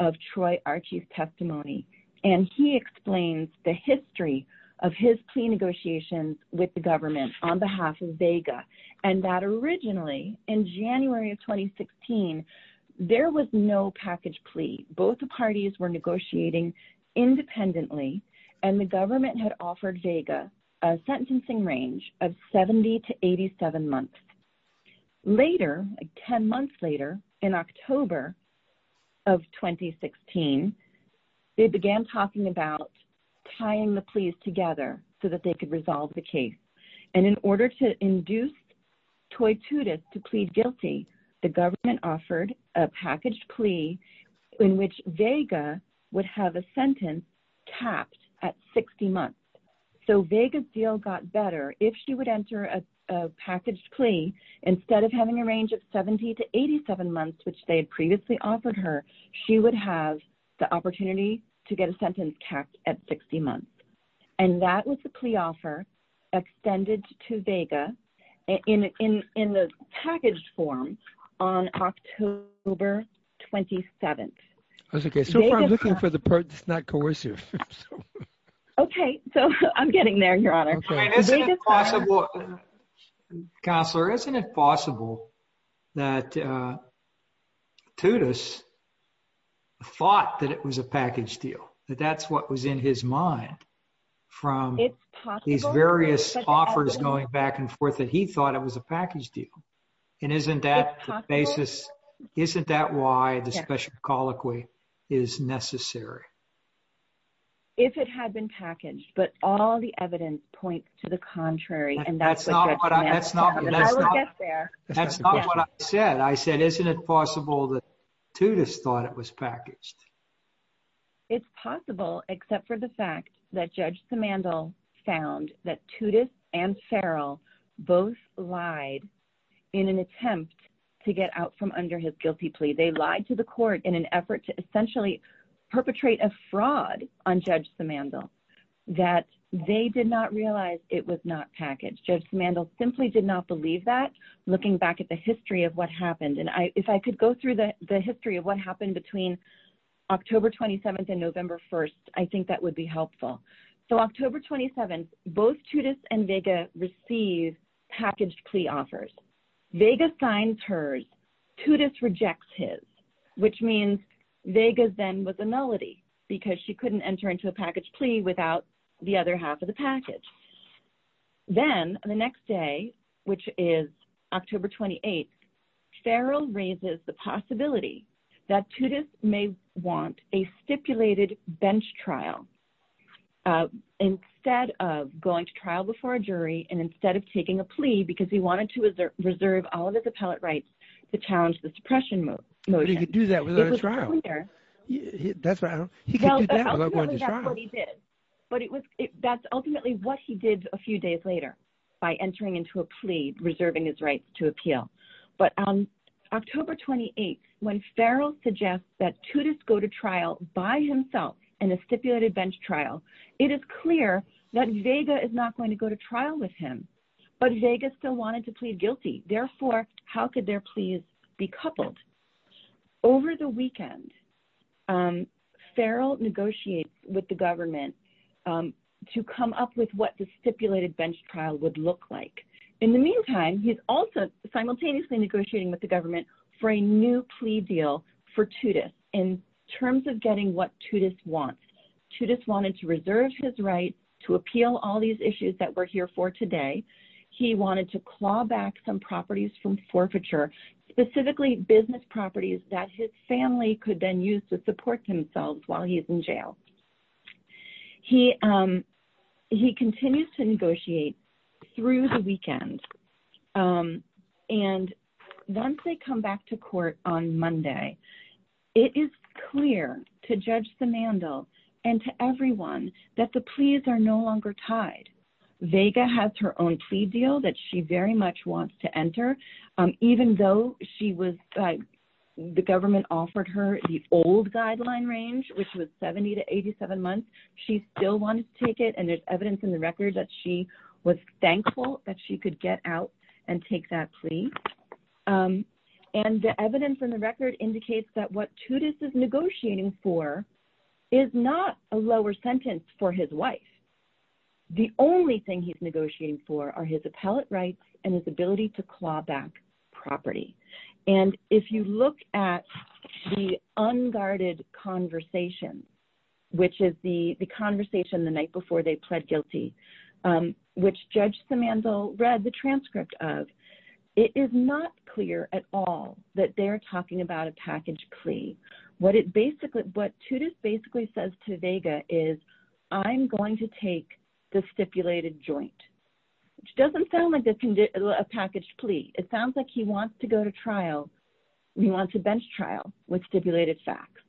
of Troy Archie's testimony. And he explains the history of his plea negotiations with the government on behalf of Vega. And that originally in January of 2016, there was no package plea. Both the parties were negotiating independently and the government had offered Vega a sentencing range of 70 to 87 months. Later, 10 months later, in October of 2016, they began talking about tying the pleas together so that they could resolve the case. And in order to induce Troy Tudis to plead guilty, the government offered a package plea in which Vega would have a sentence capped at 60 months. So Vega's deal got better. If she would enter a packaged plea, instead of having a range of 70 to 87 months, which they had previously offered her, she would have the opportunity to get a sentence capped at 60 months. And that was the plea offer extended to Vega in the packaged form on October 27th. That's okay. So far, I'm looking for the part that's not coercive. Absolutely. Okay. So I'm getting there, Your Honor. Okay. Counselor, isn't it possible that Tudis thought that it was a package deal? That that's what was in his mind from these various offers going back and forth that he thought it was a package deal? And isn't that the basis? Isn't that why the special colloquy is necessary? If it had been packaged, but all the evidence points to the contrary. And that's not what I said. I said, isn't it possible that Tudis thought it was packaged? It's possible, except for the fact that Judge Simandl found that Tudis and Farrell both lied in an attempt to get out from under his guilty plea. They lied to the court in an effort to essentially perpetrate a fraud on Judge Simandl that they did not realize it was not packaged. Judge Simandl simply did not believe that, looking back at the history of what happened. And if I could go through the history of what happened between October 27th and November 1st, I think that would be helpful. So October 27th, both Tudis and Vega receive packaged plea offers. Vega signs hers. Tudis rejects his, which means Vega then was a nullity because she couldn't enter into a packaged plea without the other half of the package. Then the next day, which is October 28th, Farrell raises the possibility that Tudis may want a stipulated bench trial instead of going to trial before a jury and instead of taking a plea because he wanted to reserve all of his appellate rights to challenge the suppression move. No, he could do that without a trial. It was clear. He could do that without going to trial. But that's ultimately what he did a few days later, by entering into a plea, reserving his right to appeal. But on October 28th, when Farrell suggests that Tudis go to trial by himself in a stipulated bench trial, it is clear that Vega is not going to go to trial with him, but Vega still wanted to plead guilty. Therefore, how could their pleas be coupled? Over the weekend, Farrell negotiates with the government to come up with what the stipulated bench trial would look like. In the meantime, he's also simultaneously negotiating with the government for a new plea deal for Tudis in terms of getting what Tudis wants. Tudis wanted to reserve his right to appeal all these issues that we're here for today. He wanted to claw back some properties from forfeiture, specifically business properties that his family could then use to support themselves while he's in jail. And once they come back to court on Monday, it is clear to Judge Simando and to everyone that the pleas are no longer tied. Vega has her own plea deal that she very much wants to enter, even though the government offered her the old guideline range, which was 70 to 87 months. She still wanted to take it, and there's evidence in the record that she was thankful that she could get out and take that plea. And the evidence in the record indicates that what Tudis is negotiating for is not a lower sentence for his wife. The only thing he's negotiating for are his appellate rights and his ability to claw back property. And if you look at the unguarded conversation, which is the conversation the night before they pled guilty, which Judge Simando read the transcript of, it is not clear at all that they're talking about a package plea. What Tudis basically says to Vega is, I'm going to take the stipulated joint, which doesn't sound like a package plea. It sounds like he wants to go to trial. He wants a bench trial with stipulated facts.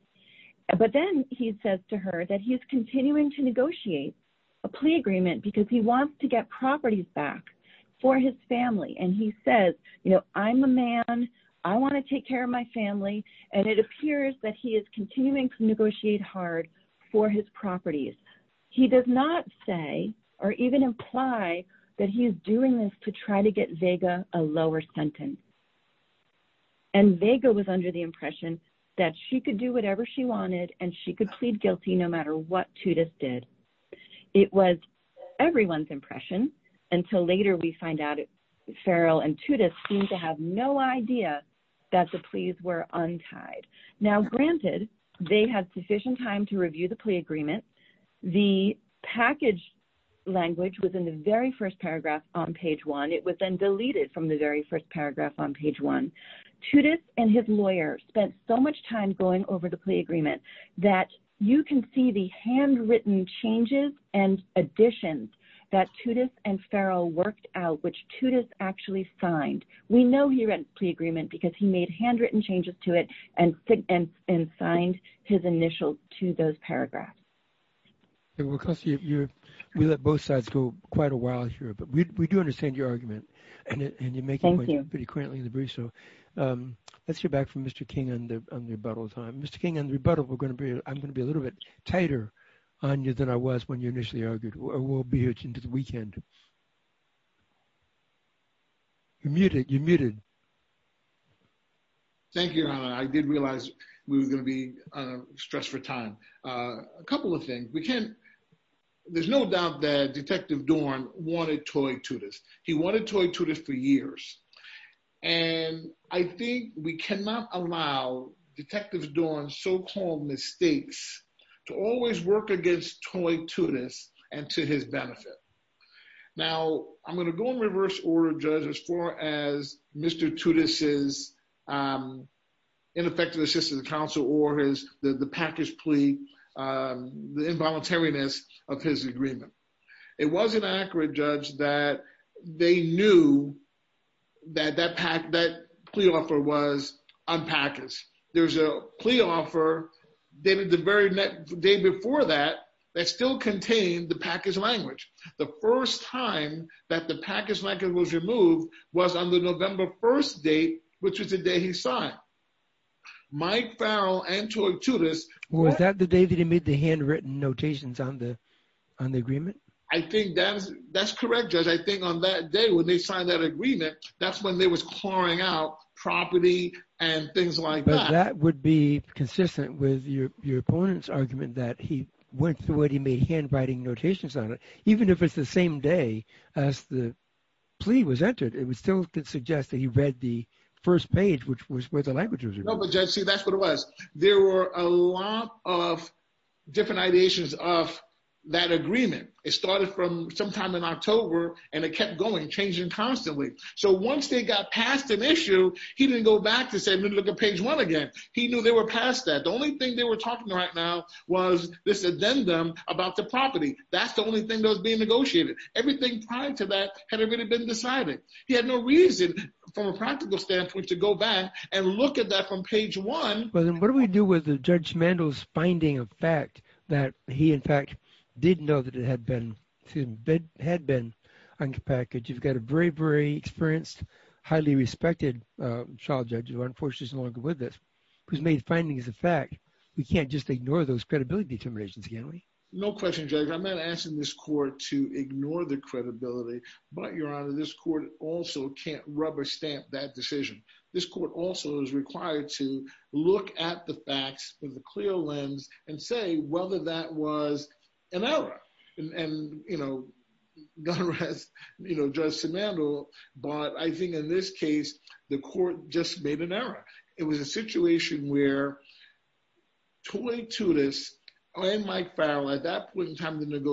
But then he says to her that he's continuing to negotiate a plea agreement because he wants to get properties back for his family. And he says, you know, I'm a man. I want to take care of my family. And it appears that he is continuing to negotiate hard for his properties. He does not say or even imply that he's doing this to try to get Vega a lower sentence. And Vega was under the impression that she could do whatever she wanted and she could plead guilty no matter what Tudis did. It was everyone's impression until later we find out that Farrell and Tudis seem to have no idea that the pleas were untied. Now, granted, they had sufficient time to review the plea agreement. The package language was in the very first paragraph on page one. It was then deleted from the very first paragraph on page one. Tudis and his lawyer spent so much time going over the plea agreement that you can see the handwritten changes and additions that Tudis and Farrell worked out, which Tudis actually signed. We know he wrote a plea agreement because he made handwritten changes to it and signed his initial to those paragraphs. And we'll cut to you. We've had both sides for quite a while here, but we do understand your argument. And you're making a pretty crantling of the brief. So let's hear back from Mr. King on the rebuttal time. Mr. King, on the rebuttal, I'm going to be a little bit tighter on you than I was when you initially argued. We'll be here until the weekend. You're muted. You're muted. Thank you, Hannah. I did realize we were going to be on express for time. A couple of things. There's no doubt that Detective Dorn wanted Toy Tudis. He wanted Toy Tudis for years. And I think we cannot allow Detective Dorn's so-called mistakes to always work against Toy Tudis and to his benefit. Now, I'm going to go in reverse order, Judge, as far as Mr. Tudis's ineffective assistance to counsel or the package plea, the involuntariness of his agreement. It wasn't accurate, Judge, that they knew that that plea offer was unpackaged. There's a plea offer dated the very day before that that still contained the package language. The first time that the package language was removed was on the November 1st date, which is the day he signed. Now, Mike Farrell and Toy Tudis— Was that the day that he made the handwritten notations on the agreement? I think that's correct, Judge. I think on that day when they signed that agreement, that's when they were clawing out property and things like that. But that would be consistent with your opponent's argument that he went through what he made, handwriting notations on it. Even if it's the same day as the plea was entered, it still could suggest that he read the first page, which was where the language was removed. No, but Judge, see, that's what it was. There were a lot of different ideations of that agreement. It started from sometime in October, and it kept going, changing constantly. So once they got past an issue, he didn't go back and say, let me look at page one again. He knew they were past that. The only thing they were talking right now was this addendum about the property. That's the only thing that was being negotiated. Everything prior to that had already been decided. He had no reason, from a practical standpoint, to go back and look at that from page one. But then what do we do with Judge Mandel's finding of fact that he, in fact, did know that it had been unpackaged? You've got a very, very experienced, highly respected child judge who unfortunately is no longer with us, whose main finding is the fact we can't just ignore those credibility determinations, can we? No question, Judge. I'm not asking this court to ignore the credibility. But, Your Honor, this court also can't rubber stamp that decision. This court also is required to look at the facts from a clear lens and say whether that was an error. And, you know, not just Judge Mandel, but I think in this case, the court just made an error. It was a situation where, to lay to this, I and my family at that point in time of the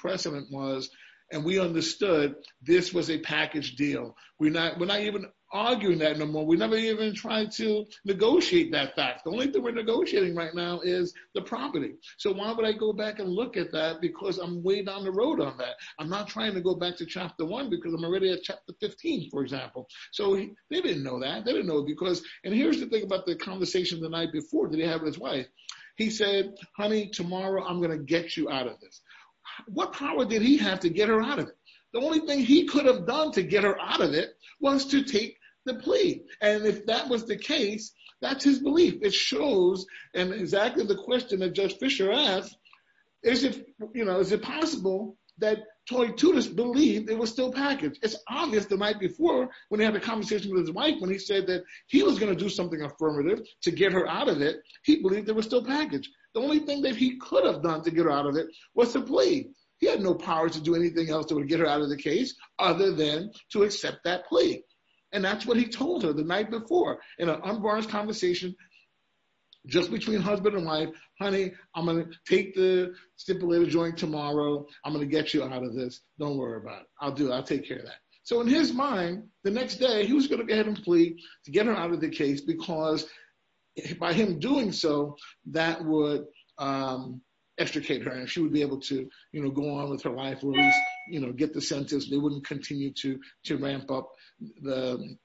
precedent was, and we understood, this was a package deal. We're not even arguing that no more. We never even tried to negotiate that fact. The only thing we're negotiating right now is the property. So why would I go back and look at that because I'm way down the road on that. I'm not trying to go back to chapter one because I'm already at chapter 15, for example. So they didn't know that. They didn't know because, and here's the thing about the conversation the night before, that he had with his wife. He said, honey, tomorrow I'm going to get you out of this. What power did he have to get her out of it? The only thing he could have done to get her out of it was to take the plea. And if that was the case, that's his belief. It shows, and exactly the question that Judge Fischer asked, is it, you know, is it possible that, to lay to this, believe they were still packaged? It's obvious the night before, when he had a conversation with his wife, when he said that he was going to do something affirmative to get her out of it, he believed they were still packaged. The only thing that he could have done to get her out of it was the plea. He had no power to do anything else that would get her out of the case other than to accept that plea. And that's what he told her the night before in an unbiased conversation just between husband and wife. Honey, I'm going to take the stipulated joint tomorrow. I'm going to get you out of this. Don't worry about it. I'll do it. I'll take care of that. So in his mind, the next day, he was going to go ahead and plead to get her out of the case, because by him doing so, that would extricate her, and she would be able to, you know, go on with her life, you know, get the sentence. They wouldn't continue to ramp up the,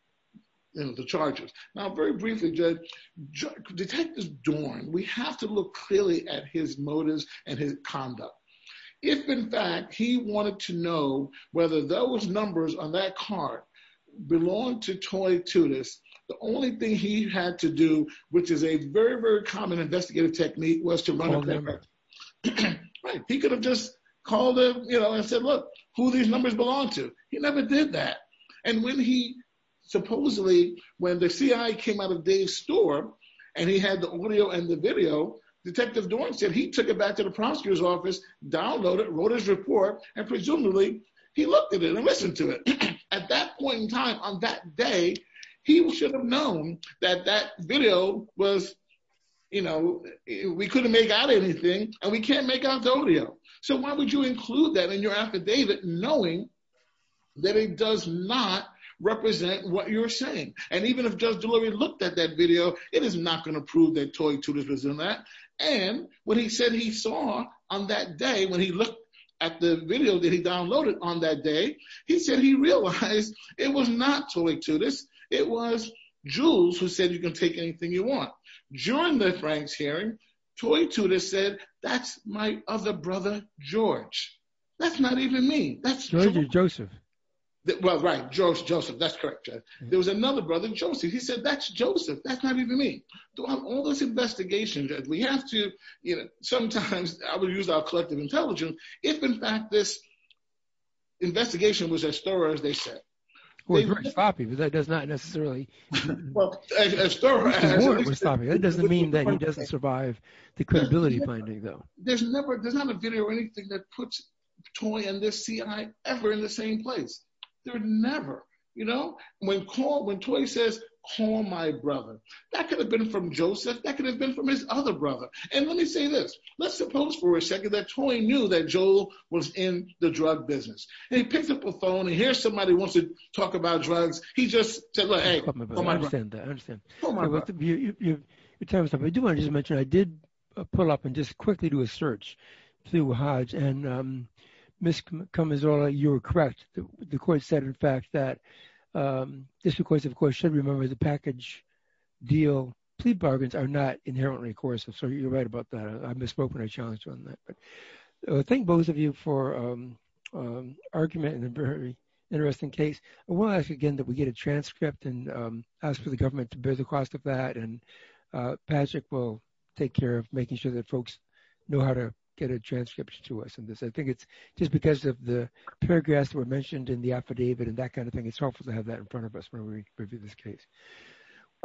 you know, the charges. Now, very briefly, Judge, Detective Dorn, we have to look clearly at his motives and his conduct. If, in fact, he wanted to know whether those numbers on that card belonged to Toy Tootis, the only thing he had to do, which is a very, very common investigative technique, was to run a number. He could have just called him, you know, and said, look, who these numbers belong to. He never did that. And when he supposedly, when the C.I. came out of Dave's store, and he had the audio and the video, Detective Dorn said he took it back to the prosecutor's office, downloaded, wrote his report, and presumably, he looked at it and listened to it. At that point in time, on that day, he should have known that that video was, you know, we couldn't make out anything, and we can't make out the audio. So why would you include that in your affidavit knowing that it does not represent what you're saying? And even if Judge Dorn had looked at that video, it is not going to prove that Toy Tootis was in that. And when he said he saw on that day, when he looked at the video that he downloaded on that day, he said he realized it was not Toy Tootis. It was Jules who said, you can take anything you want. During the Frank's hearing, Toy Tootis said, that's my other brother, George. That's not even me. That's not even Joseph. Well, right. George Joseph. That's correct. There was another brother, Joseph. He said, that's Joseph. That's not even me. So all those investigations, we have to, you know, sometimes I will use our collective intelligence. If, in fact, this investigation was as thorough as they said. Well, it's very sloppy, but that does not necessarily mean that he doesn't survive the credibility finding, though. There's never, there's not a video or anything that puts Toy and this CI ever in the same place. There's never, you know, when Toy says, call my brother. That could have been from Joseph. That could have been from his other brother. And let me say this. Let's suppose for a second that Toy knew that Joe was in the drug business. And he picked up the phone and here's somebody who wants to talk about drugs. He just said, look, hey, call my brother. I understand that. I understand. Call my brother. I do want to just mention, I did pull up and just quickly do a search through Hodge. And Ms. Kamisola, you were correct. The court said, in fact, that this court, of course, should remember the package deal plea bargains are not inherently coercive. So you're right about that. I misspoke when I challenged on that. But thank both of you for argument in a very interesting case. I will ask again that we get a transcript and ask for the government to bear the cost of that. And Patrick will take care of making sure that folks know how to get a transcript to us in this. I think it's just because of the paragraphs were mentioned in the affidavit and that kind of thing. It's helpful to have that in front of us when we review this case.